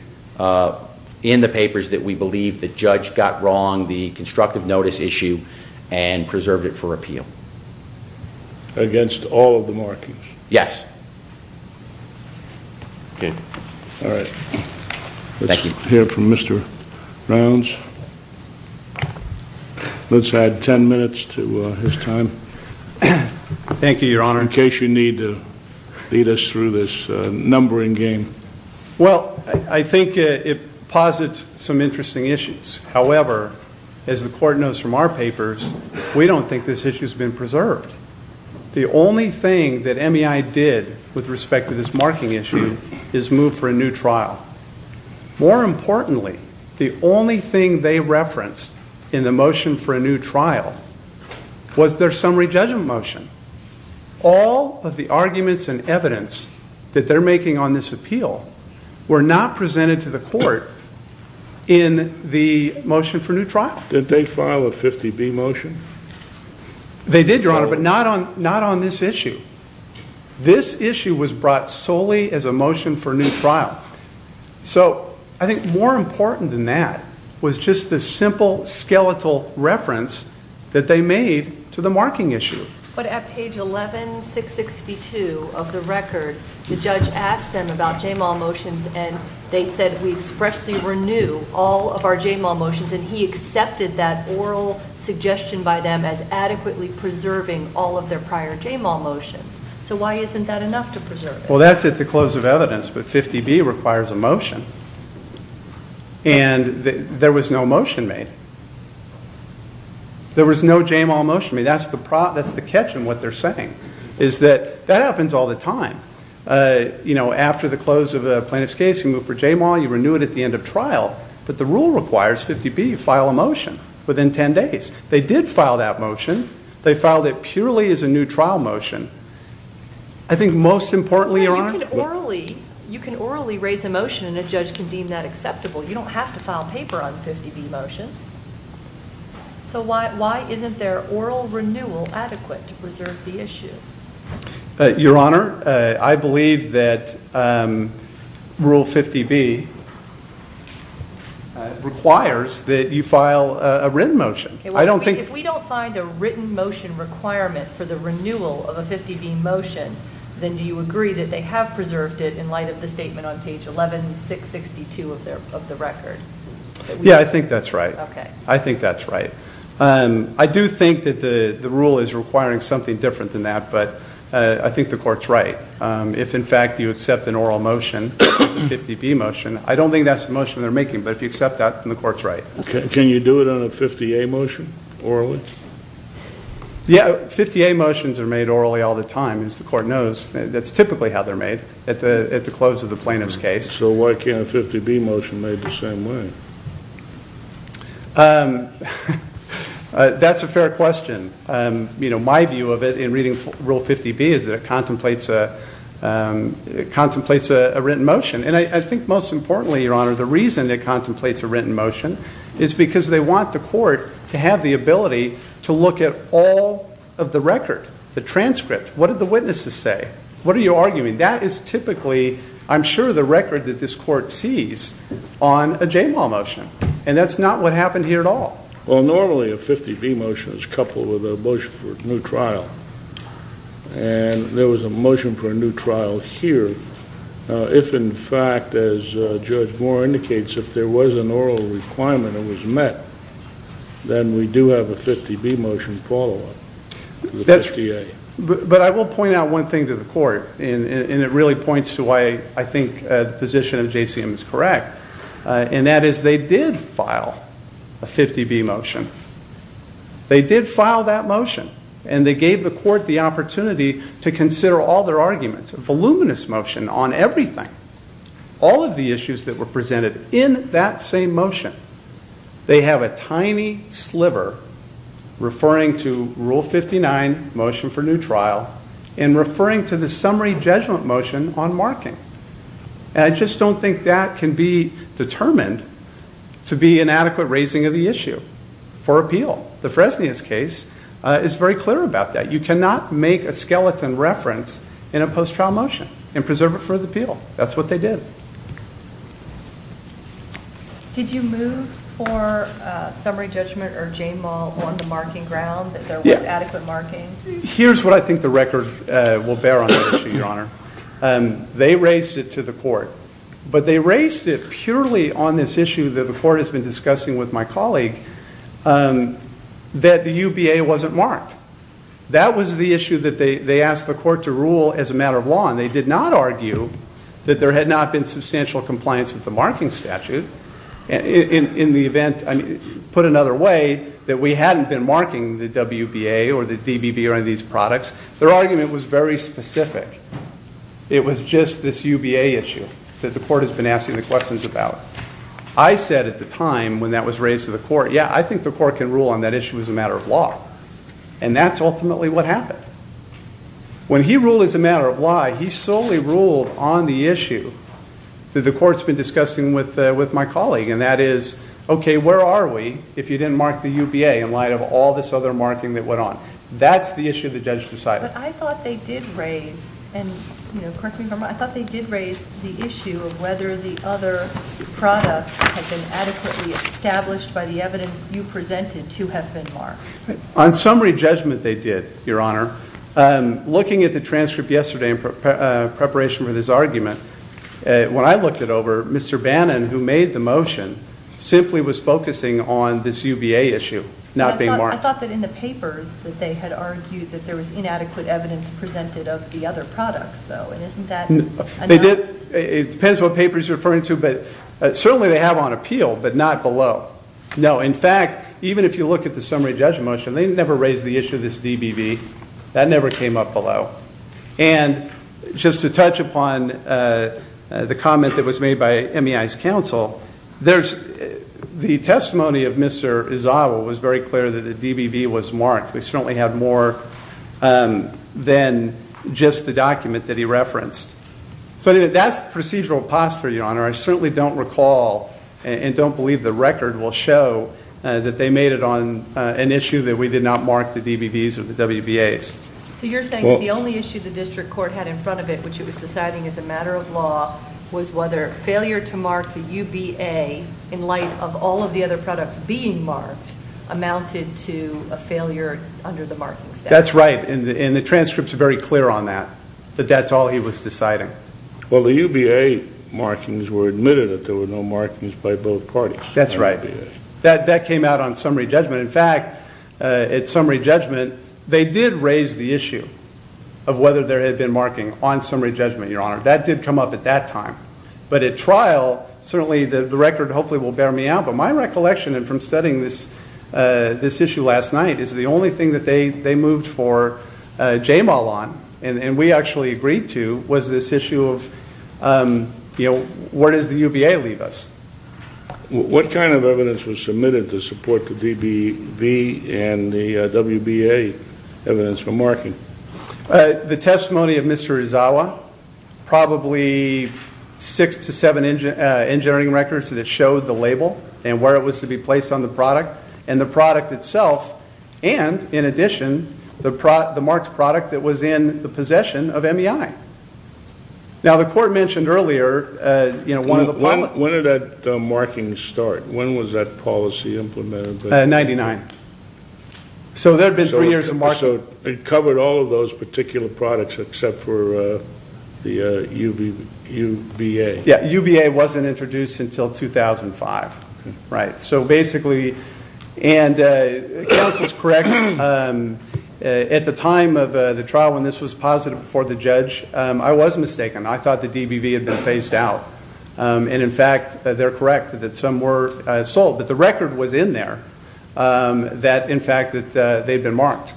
in the papers that we believe the judge got wrong, the constructive notice issue, and preserved it for appeal. Against all of the markings? Yes. Okay. All right. Thank you. Let's hear from Mr. Rounds. Let's add ten minutes to his time. Thank you, your honor. In case you need to lead us through this numbering game. Well, I think it posits some interesting issues. However, as the court knows from our papers, we don't think this issue's been preserved. The only thing that MEI did with respect to this marking issue is move for a new trial. More importantly, the only thing they referenced in the motion for a new trial was their summary judgment motion. All of the arguments and evidence that they're making on this appeal were not presented to the court in the motion for new trial. Did they file a 50B motion? They did, your honor, but not on this issue. This issue was brought solely as a motion for new trial. So, I think more important than that was just the simple, skeletal reference that they made to the marking issue. But at page 11662 of the record, the judge asked them about JMAL motions and they said we expressly renew all of our JMAL motions. And he accepted that oral suggestion by them as adequately preserving all of their prior JMAL motions. So why isn't that enough to preserve it? Well, that's at the close of evidence, but 50B requires a motion. And there was no motion made. There was no JMAL motion made. That's the catch in what they're saying, is that that happens all the time. After the close of a plaintiff's case, you move for JMAL, you renew it at the end of trial, but the rule requires 50B, file a motion within ten days. They did file that motion. They filed it purely as a new trial motion. I think most importantly- You can orally raise a motion and a judge can deem that acceptable. You don't have to file paper on 50B motions. So why isn't their oral renewal adequate to preserve the issue? Your Honor, I believe that rule 50B requires that you file a written motion. I don't think- If we don't find a written motion requirement for the renewal of a 50B motion, then do you agree that they have preserved it in light of the statement on page 11, 662 of the record? Yeah, I think that's right. I think that's right. I do think that the rule is requiring something different than that, but I think the court's right. If in fact you accept an oral motion, a 50B motion, I don't think that's the motion they're making. But if you accept that, then the court's right. Can you do it on a 50A motion, orally? Yeah, 50A motions are made orally all the time, as the court knows. That's typically how they're made at the close of the plaintiff's case. So why can't a 50B motion made the same way? That's a fair question. My view of it in reading Rule 50B is that it contemplates a written motion. And I think most importantly, Your Honor, the reason it contemplates a written motion is because they want the court to have the ability to look at all of the record, the transcript, what did the witnesses say? What are you arguing? That is typically, I'm sure, the record that this court sees on a JMAL motion. And that's not what happened here at all. Well, normally a 50B motion is coupled with a motion for a new trial. And there was a motion for a new trial here. If in fact, as Judge Moore indicates, if there was an oral requirement that was met, then we do have a 50B motion follow-up to the 50A. But I will point out one thing to the court. And it really points to why I think the position of JCM is correct. And that is they did file a 50B motion. They did file that motion. And they gave the court the opportunity to consider all their arguments. A voluminous motion on everything. All of the issues that were presented in that same motion. They have a tiny sliver referring to Rule 59, motion for new trial, and referring to the summary judgment motion on marking. And I just don't think that can be determined to be an adequate raising of the issue for appeal. The Fresnias case is very clear about that. You cannot make a skeleton reference in a post-trial motion and preserve it for the appeal. That's what they did. Did you move for summary judgment or JMAL on the marking ground, that there was adequate marking? Here's what I think the record will bear on that issue, Your Honor. They raised it to the court. But they raised it purely on this issue that the court has been discussing with my colleague, that the UBA wasn't marked. That was the issue that they asked the court to rule as a matter of law. And they did not argue that there had not been substantial compliance with the marking statute in the event, put another way, that we hadn't been marking the WBA or the DBB or any of these products. Their argument was very specific. It was just this UBA issue that the court has been asking the questions about. I said at the time when that was raised to the court, yeah, I think the court can rule on that issue as a matter of law. And that's ultimately what happened. When he ruled as a matter of law, he solely ruled on the issue that the court's been discussing with my colleague. And that is, okay, where are we if you didn't mark the UBA in light of all this other marking that went on? That's the issue the judge decided. But I thought they did raise, and correct me if I'm wrong, I thought they did raise the issue of whether the other products had been adequately established by the evidence you presented to have been marked. On summary judgment they did, Your Honor. Looking at the transcript yesterday in preparation for this argument, when I looked it over, Mr. Bannon, who made the motion, simply was focusing on this UBA issue not being marked. I thought that in the papers that they had argued that there was inadequate evidence presented of the other products, though. And isn't that- They did, it depends what paper he's referring to, but certainly they have on appeal, but not below. No, in fact, even if you look at the summary judgment motion, they never raised the issue of this DBV. That never came up below. And just to touch upon the comment that was made by MEI's counsel, the testimony of Mr. Izawa was very clear that the DBV was marked. We certainly have more than just the document that he referenced. So that's procedural posture, Your Honor. I certainly don't recall and don't believe the record will show that they made it on an issue that we did not mark the DBVs or the WBAs. So you're saying that the only issue the district court had in front of it, which it was deciding as a matter of law, was whether failure to mark the UBA in light of all of the other products being marked amounted to a failure under the markings. That's right, and the transcripts are very clear on that, that that's all he was deciding. Well, the UBA markings were admitted that there were no markings by both parties. That's right. That came out on summary judgment. In fact, at summary judgment, they did raise the issue of whether there had been marking on summary judgment, Your Honor. That did come up at that time. But at trial, certainly the record hopefully will bear me out. But my recollection, and from studying this issue last night, is the only thing that they moved for JMAL on, and we actually agreed to, was this issue of where does the UBA leave us? What kind of evidence was submitted to support the DBV and the WBA evidence for marking? The testimony of Mr. Uzawa, probably six to seven engineering records that showed the label and where it was to be placed on the product, and the product itself, and in addition, the marked product that was in the possession of MEI. Now, the court mentioned earlier, one of the- When did that marking start? When was that policy implemented? 99. So there had been three years of marking. So it covered all of those particular products except for the UBA. Yeah, UBA wasn't introduced until 2005, right? So basically, and counsel's correct, at the time of the trial when this was posited before the judge, I was mistaken. I thought the DBV had been phased out. And in fact, they're correct that some were sold. But the record was in there, that in fact, that they've been marked.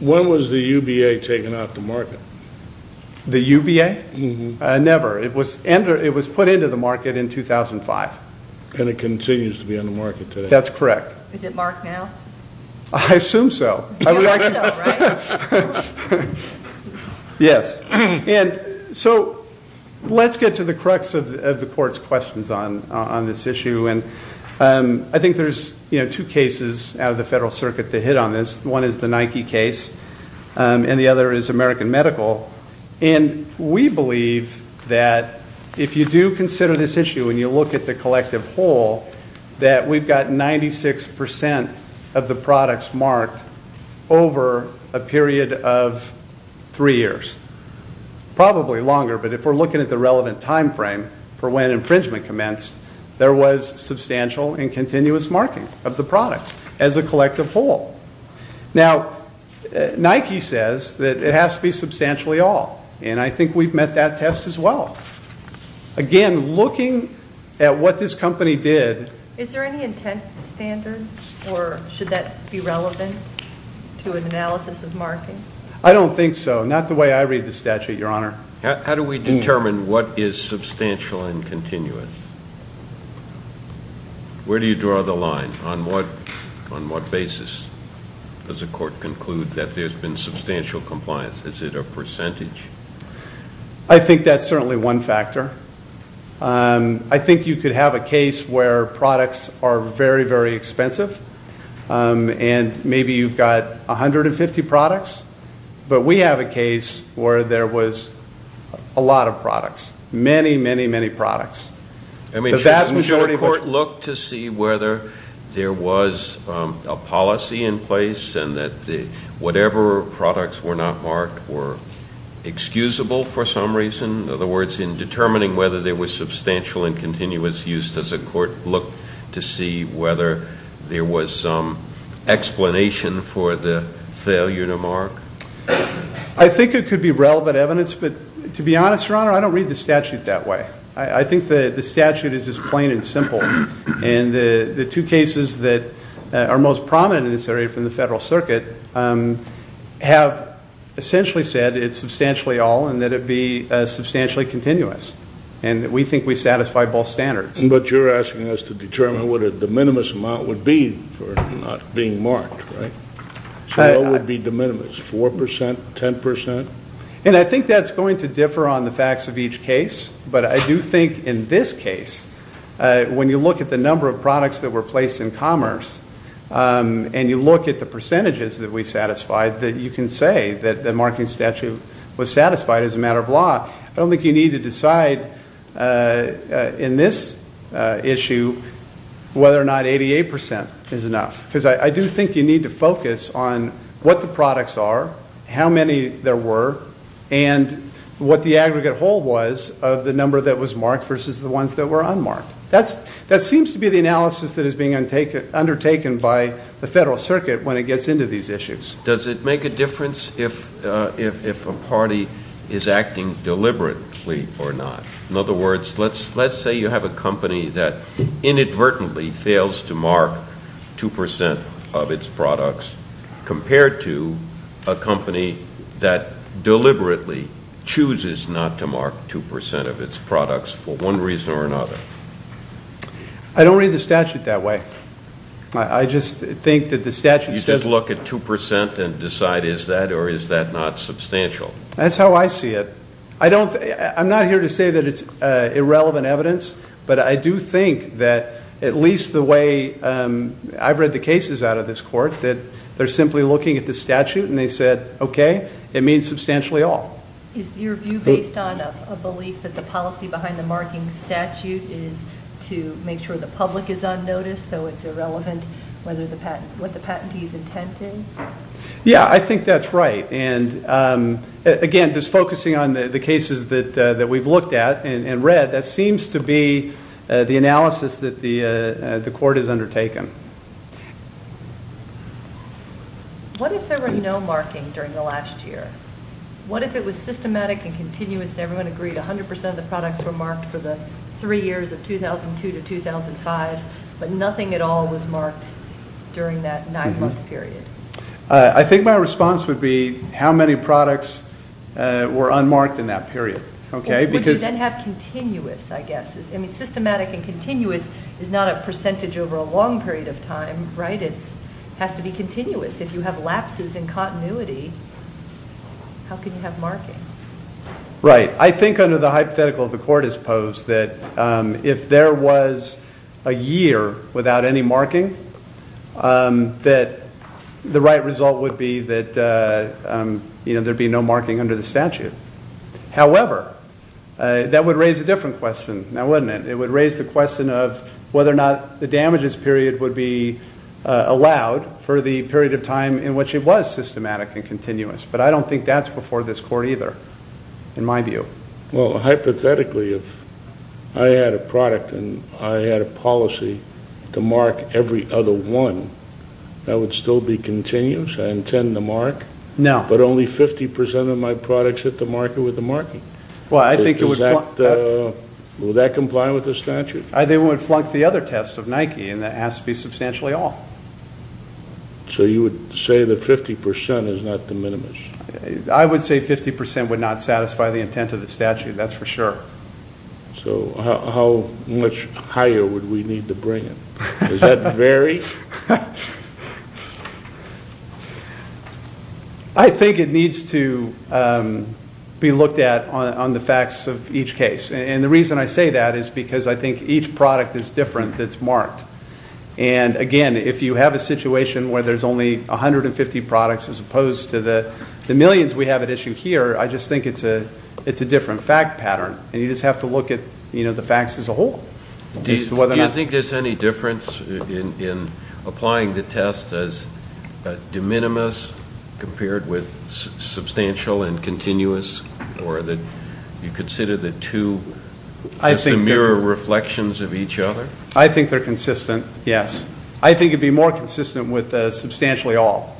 When was the UBA taken off the market? The UBA? Never, it was put into the market in 2005. And it continues to be on the market today. That's correct. Is it marked now? I assume so. You assume so, right? Yes, and so let's get to the crux of the court's questions on this issue. And I think there's two cases out of the Federal Circuit that hit on this. One is the Nike case, and the other is American Medical. And we believe that if you do consider this issue and you look at the collective whole, that we've got 96% of the products marked over a period of three years. Probably longer, but if we're looking at the relevant time frame for when infringement commenced, there was substantial and continuous marking of the products as a collective whole. Now, Nike says that it has to be substantially all, and I think we've met that test as well. Again, looking at what this company did- Is there any intent standard, or should that be relevant to an analysis of marking? I don't think so, not the way I read the statute, Your Honor. How do we determine what is substantial and continuous? Where do you draw the line? On what basis does a court conclude that there's been substantial compliance? Is it a percentage? I think that's certainly one factor. I think you could have a case where products are very, very expensive. And maybe you've got 150 products. But we have a case where there was a lot of products, many, many, many products. The vast majority- Should a court look to see whether there was a policy in place and that whatever products were not marked were excusable for some reason? In other words, in determining whether there was substantial and continuous use, does a court look to see whether there was some failure to mark? I think it could be relevant evidence, but to be honest, Your Honor, I don't read the statute that way. I think the statute is as plain and simple. And the two cases that are most prominent in this area from the federal circuit have essentially said it's substantially all and that it be substantially continuous. And we think we satisfy both standards. But you're asking us to determine what the minimum amount would be for not being marked, right? What would be the minimum, 4%, 10%? And I think that's going to differ on the facts of each case. But I do think in this case, when you look at the number of products that were placed in commerce, and you look at the percentages that we satisfied, that you can say that the marking statute was satisfied as a matter of law. I don't think you need to decide in this issue whether or not 88% is enough. because I do think you need to focus on what the products are, how many there were, and what the aggregate whole was of the number that was marked versus the ones that were unmarked. That seems to be the analysis that is being undertaken by the federal circuit when it gets into these issues. Does it make a difference if a party is acting deliberately or not? In other words, let's say you have a company that inadvertently fails to mark 2% of its products compared to a company that deliberately chooses not to mark 2% of its products for one reason or another. I don't read the statute that way. I just think that the statute says- You just look at 2% and decide is that or is that not substantial? That's how I see it. I'm not here to say that it's irrelevant evidence. But I do think that at least the way I've read the cases out of this court, that they're simply looking at the statute and they said, okay, it means substantially all. Is your view based on a belief that the policy behind the marking statute is to make sure the public is on notice, so it's irrelevant what the patentee's intent is? Yeah, I think that's right. And again, just focusing on the cases that we've looked at and read, that seems to be the analysis that the court has undertaken. What if there were no marking during the last year? What if it was systematic and continuous and everyone agreed 100% of the products were marked for the three years of 2002 to 2005, but nothing at all was marked during that nine month period? I think my response would be how many products were unmarked in that period, okay? Would you then have continuous, I guess? I mean, systematic and continuous is not a percentage over a long period of time, right? It has to be continuous. If you have lapses in continuity, how can you have marking? Right, I think under the hypothetical the court has posed that if there was a year without any marking, that the right result would be that there'd be no marking under the statute. However, that would raise a different question, now wouldn't it? It would raise the question of whether or not the damages period would be allowed for the period of time in which it was systematic and continuous. But I don't think that's before this court either, in my view. Well, hypothetically, if I had a product and I had a policy to mark every other one, that would still be continuous? I intend to mark? No. But only 50% of my products hit the market with the marking. Will that comply with the statute? They would flunk the other test of Nike, and that has to be substantially off. So you would say that 50% is not the minimum? I would say 50% would not satisfy the intent of the statute, that's for sure. So how much higher would we need to bring it? Does that vary? I think it needs to be looked at on the facts of each case. And the reason I say that is because I think each product is different that's marked. And again, if you have a situation where there's only 150 products as opposed to the millions we have at issue here, I just think it's a different fact pattern. And you just have to look at the facts as a whole. Do you think there's any difference in applying the test as de minimis compared with substantial and continuous? Or that you consider the two as the mirror reflections of each other? I think they're consistent, yes. I think it'd be more consistent with substantially all,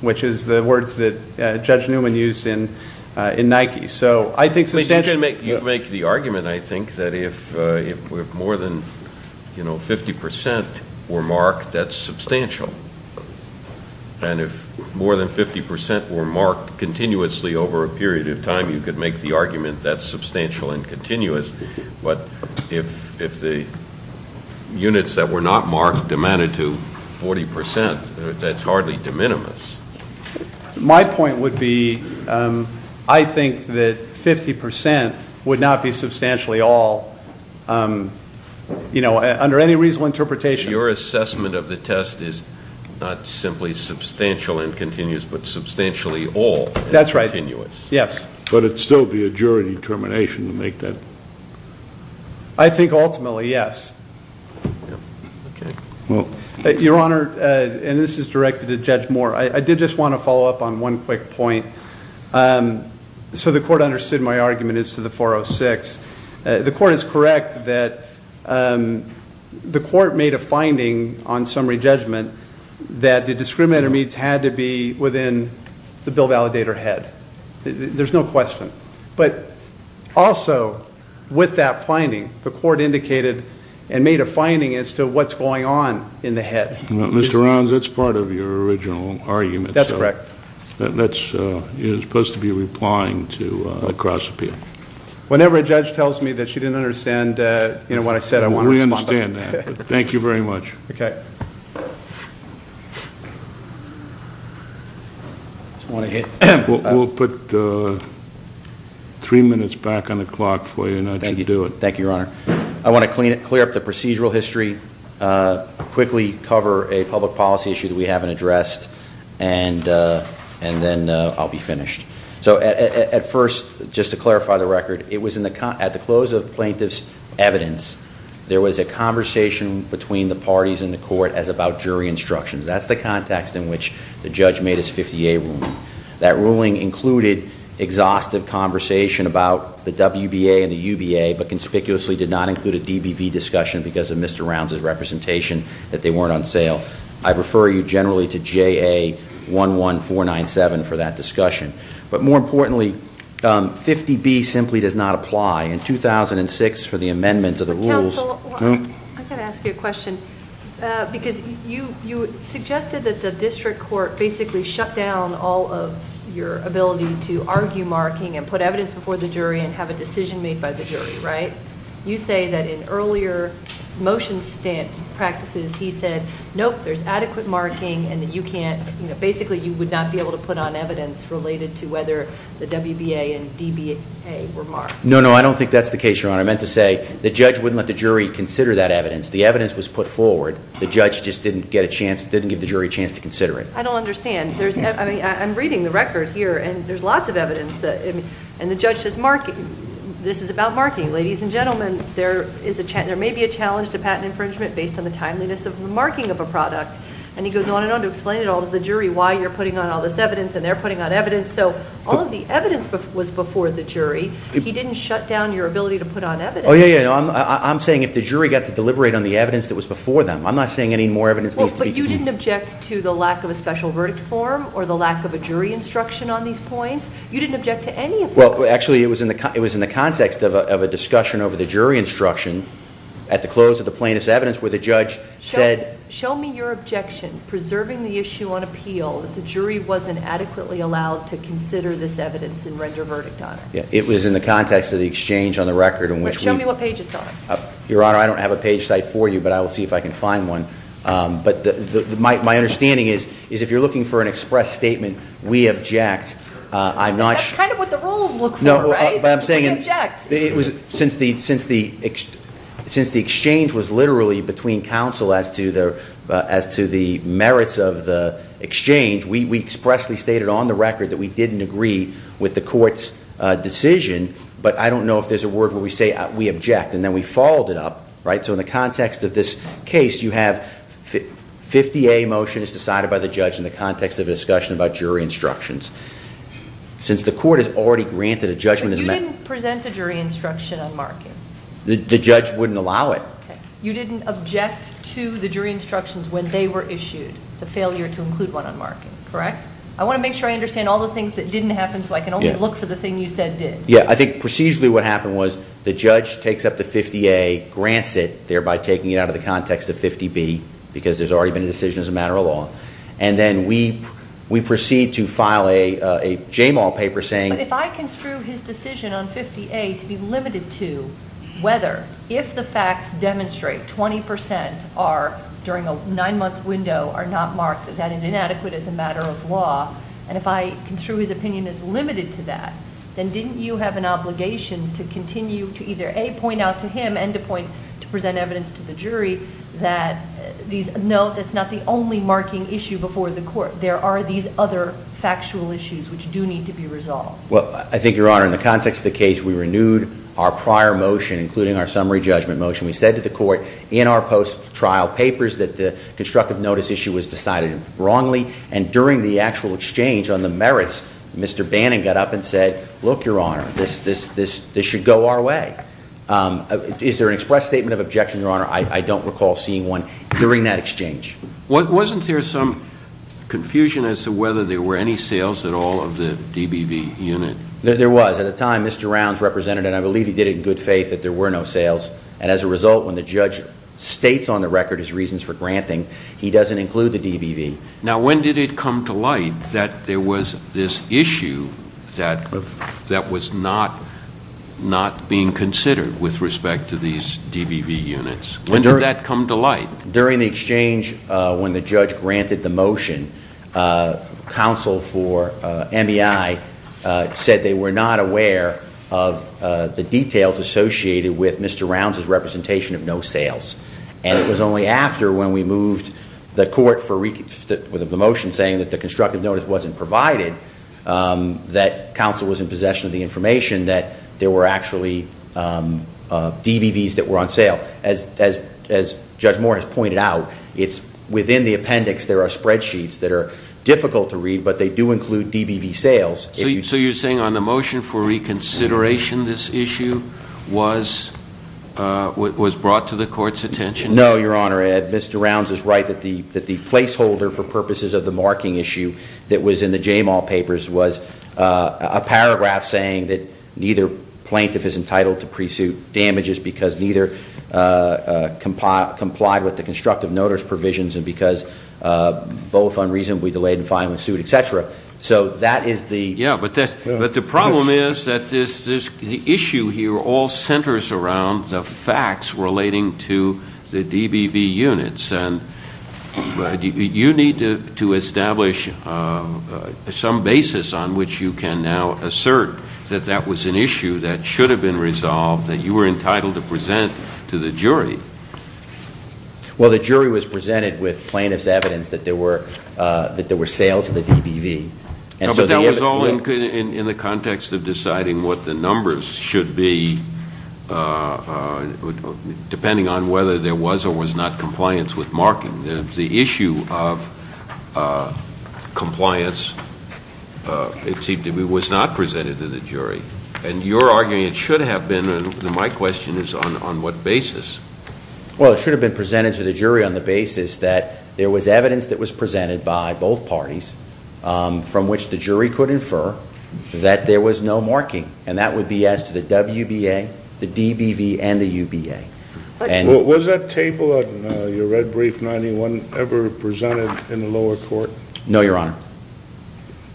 which is the words that Judge Newman used in Nike. So I think substantially all. You can make the argument, I think, that if more than 50% were marked, that's substantial. And if more than 50% were marked continuously over a period of time, you could make the argument that's substantial and continuous. But if the units that were not marked demanded to 40%, that's hardly de minimis. My point would be, I think that 50% would not be substantially all. Under any reasonable interpretation- Your assessment of the test is not simply substantial and continuous, but substantially all- That's right. Continuous. Yes. But it'd still be a jury determination to make that. I think ultimately, yes. Well, your honor, and this is directed to Judge Moore. I did just want to follow up on one quick point. So the court understood my argument as to the 406. The court is correct that the court made a finding on summary judgment that the discriminator meets had to be within the bill validator head. There's no question. But also, with that finding, the court indicated and made a finding as to what's going on in the head. Mr. Rounds, that's part of your original argument. That's correct. That's supposed to be replying to a cross appeal. Whenever a judge tells me that she didn't understand what I said, I want to respond. We understand that. Thank you very much. Okay. I just want to hit- We'll put three minutes back on the clock for you and I'll let you do it. Thank you, your honor. I want to clear up the procedural history. Quickly cover a public policy issue that we haven't addressed and then I'll be finished. So at first, just to clarify the record, at the close of plaintiff's evidence, there was a conversation between the parties in the court as about jury instructions. That's the context in which the judge made his 50A ruling. That ruling included exhaustive conversation about the WBA and the UBA, but I refer you generally to JA11497 for that discussion. But more importantly, 50B simply does not apply. In 2006, for the amendments of the rules- Counsel, I've got to ask you a question. Because you suggested that the district court basically shut down all of your ability to argue marking and put evidence before the jury and have a decision made by the jury, right? You say that in earlier motion stamp practices, he said, nope, there's adequate marking and that you can't, basically you would not be able to put on evidence related to whether the WBA and DBA were marked. No, no, I don't think that's the case, your honor. I meant to say the judge wouldn't let the jury consider that evidence. The evidence was put forward. The judge just didn't give the jury a chance to consider it. I don't understand. I'm reading the record here and there's lots of evidence and the judge says this is about marking. Ladies and gentlemen, there may be a challenge to patent infringement based on the timeliness of the marking of a product. And he goes on and on to explain it all to the jury why you're putting on all this evidence and they're putting on evidence. So all of the evidence was before the jury. He didn't shut down your ability to put on evidence. Yeah, yeah, I'm saying if the jury got to deliberate on the evidence that was before them. I'm not saying any more evidence needs to be- But you didn't object to the lack of a special verdict form or the lack of a jury instruction on these points? You didn't object to any of them? Well, actually, it was in the context of a discussion over the jury instruction at the close of the plaintiff's evidence where the judge said- Show me your objection preserving the issue on appeal that the jury wasn't adequately allowed to consider this evidence and render a verdict on it. Yeah, it was in the context of the exchange on the record in which we- Show me what page it's on. Your honor, I don't have a page site for you, but I will see if I can find one. But my understanding is if you're looking for an express statement, we object. I'm not- That's kind of what the rules look for, right? We object. Since the exchange was literally between counsel as to the merits of the exchange, we expressly stated on the record that we didn't agree with the court's decision. But I don't know if there's a word where we say we object, and then we followed it up, right? So in the context of this case, you have 50A motion is decided by the judge in the context of a discussion about jury instructions. Since the court has already granted a judgment- But you didn't present a jury instruction on marking. The judge wouldn't allow it. You didn't object to the jury instructions when they were issued, the failure to include one on marking, correct? I want to make sure I understand all the things that didn't happen so I can only look for the thing you said did. Yeah, I think procedurally what happened was the judge takes up the 50A, grants it, thereby taking it out of the context of 50B, because there's already been a decision as a matter of law. And then we proceed to file a JMAL paper saying- But if I construe his decision on 50A to be limited to whether, if the facts demonstrate 20% are during a nine month window are not marked, that that is inadequate as a matter of law, and if I construe his opinion as limited to that, then didn't you have an obligation to continue to either A, point out to him and B, to point to present evidence to the jury that these, no, that's not the only marking issue before the court. There are these other factual issues which do need to be resolved. Well, I think, Your Honor, in the context of the case, we renewed our prior motion, including our summary judgment motion. We said to the court in our post-trial papers that the constructive notice issue was decided wrongly. And during the actual exchange on the merits, Mr. Bannon got up and said, look, Your Honor, this should go our way. Is there an express statement of objection, Your Honor? I don't recall seeing one during that exchange. Wasn't there some confusion as to whether there were any sales at all of the DBV unit? There was. At the time, Mr. Rounds represented, and I believe he did it in good faith, that there were no sales. And as a result, when the judge states on the record his reasons for granting, he doesn't include the DBV. Now, when did it come to light that there was this issue that was not being considered with respect to these DBV units? When did that come to light? During the exchange when the judge granted the motion, counsel for MEI said they were not aware of the details associated with Mr. Rounds' representation of no sales. And it was only after when we moved the motion saying that the constructive notice wasn't provided that counsel was in possession of the information that there were actually DBVs that were on sale. As Judge Moore has pointed out, it's within the appendix, there are spreadsheets that are difficult to read, but they do include DBV sales. So you're saying on the motion for reconsideration, this issue was brought to the court's attention? No, Your Honor, Mr. Rounds is right that the placeholder for purposes of the marking issue that was in the JMAL papers was a paragraph saying that neither plaintiff is entitled to pre-suit damages because neither complied with the constructive notice provisions and because both unreasonably delayed in filing a suit, etc. So that is the- Yeah, but the problem is that the issue here all centers around the facts relating to the DBV units. And you need to establish some basis on which you can now assert that that was an issue that should have been resolved, that you were entitled to present to the jury. Well, the jury was presented with plaintiff's evidence that there were sales of the DBV. And so the- No, but that was all in the context of deciding what the numbers should be, depending on whether there was or was not compliance with marking. The issue of compliance, it seemed to me, was not presented to the jury. And you're arguing it should have been, and my question is on what basis? Well, it should have been presented to the jury on the basis that there was evidence that was presented by both parties from which the jury could infer that there was no marking, and that would be as to the WBA, the DBV, and the UBA. And- Was that table on your red brief 91 ever presented in the lower court? No, Your Honor.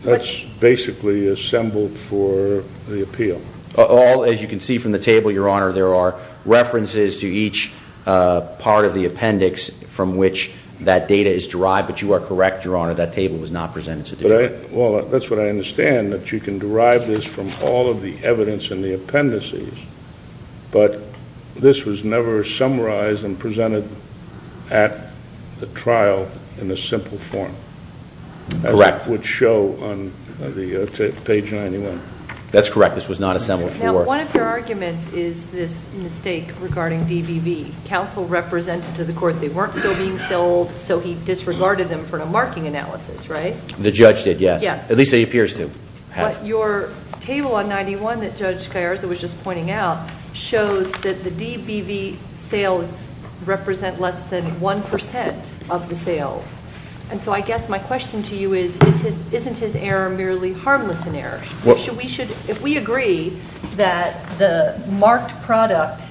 That's basically assembled for the appeal. All, as you can see from the table, Your Honor, there are references to each part of the appendix from which that data is derived. But you are correct, Your Honor, that table was not presented to the jury. Well, that's what I understand, that you can derive this from all of the evidence in the appendices, but this was never summarized and presented at the trial in a simple form. Correct. That would show on the page 91. That's correct. This was not assembled for- Now, one of your arguments is this mistake regarding DBV. Counsel represented to the court they weren't still being sold, so he disregarded them for a marking analysis, right? The judge did, yes. Yes. At least he appears to have. But your table on 91 that Judge Gallarza was just pointing out shows that the DBV sales represent less than 1% of the sales. And so I guess my question to you is isn't his error merely harmless in error? If we agree that the marked product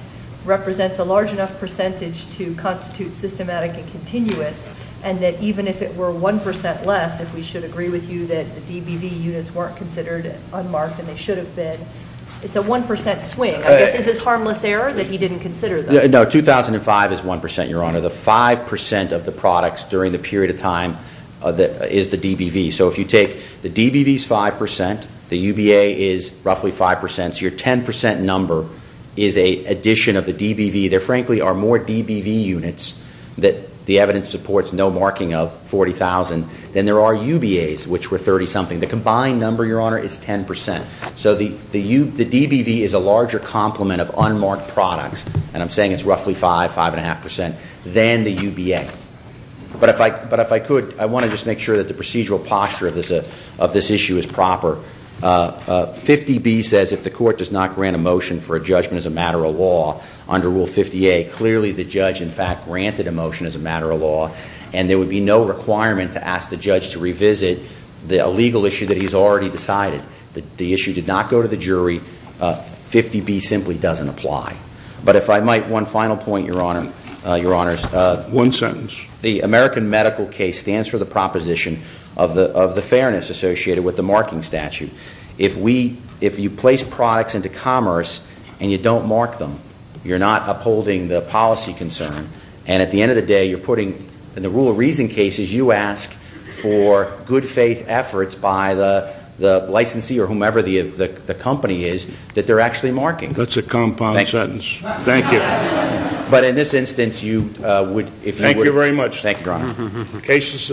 represents a large enough percentage to constitute systematic and continuous and that even if it were 1% less, if we should agree with you that the DBV units weren't considered unmarked and they should have been, it's a 1% swing. Is this harmless error that he didn't consider them? No, 2005 is 1%, Your Honor. The 5% of the products during the period of time is the DBV. So if you take the DBV is 5%, the UBA is roughly 5%, so your 10% number is an addition of the DBV. There, frankly, are more DBV units that the evidence supports no marking of 40,000 than there are UBAs, which were 30-something. The combined number, Your Honor, is 10%. So the DBV is a larger complement of unmarked products, and I'm saying it's roughly 5%, 5.5%, than the UBA. But if I could, I want to just make sure that the procedural posture of this issue is proper. 50B says if the court does not grant a motion for a judgment as a matter of law under Rule 50A, clearly the judge, in fact, granted a motion as a matter of law, and there would be no requirement to ask the judge to revisit a legal issue that he's already decided. The issue did not go to the jury. 50B simply doesn't apply. But if I might, one final point, Your Honor. One sentence. The American medical case stands for the proposition of the fairness associated with the marking statute. If you place products into commerce and you don't mark them, you're not upholding the policy concern, and at the end of the day, you're putting, in the rule of reason cases, you ask for good faith efforts by the licensee or whomever the company is that they're actually marking. That's a compound sentence. Thank you. But in this instance, you would, if they would. Thank you very much. Thank you, Your Honor.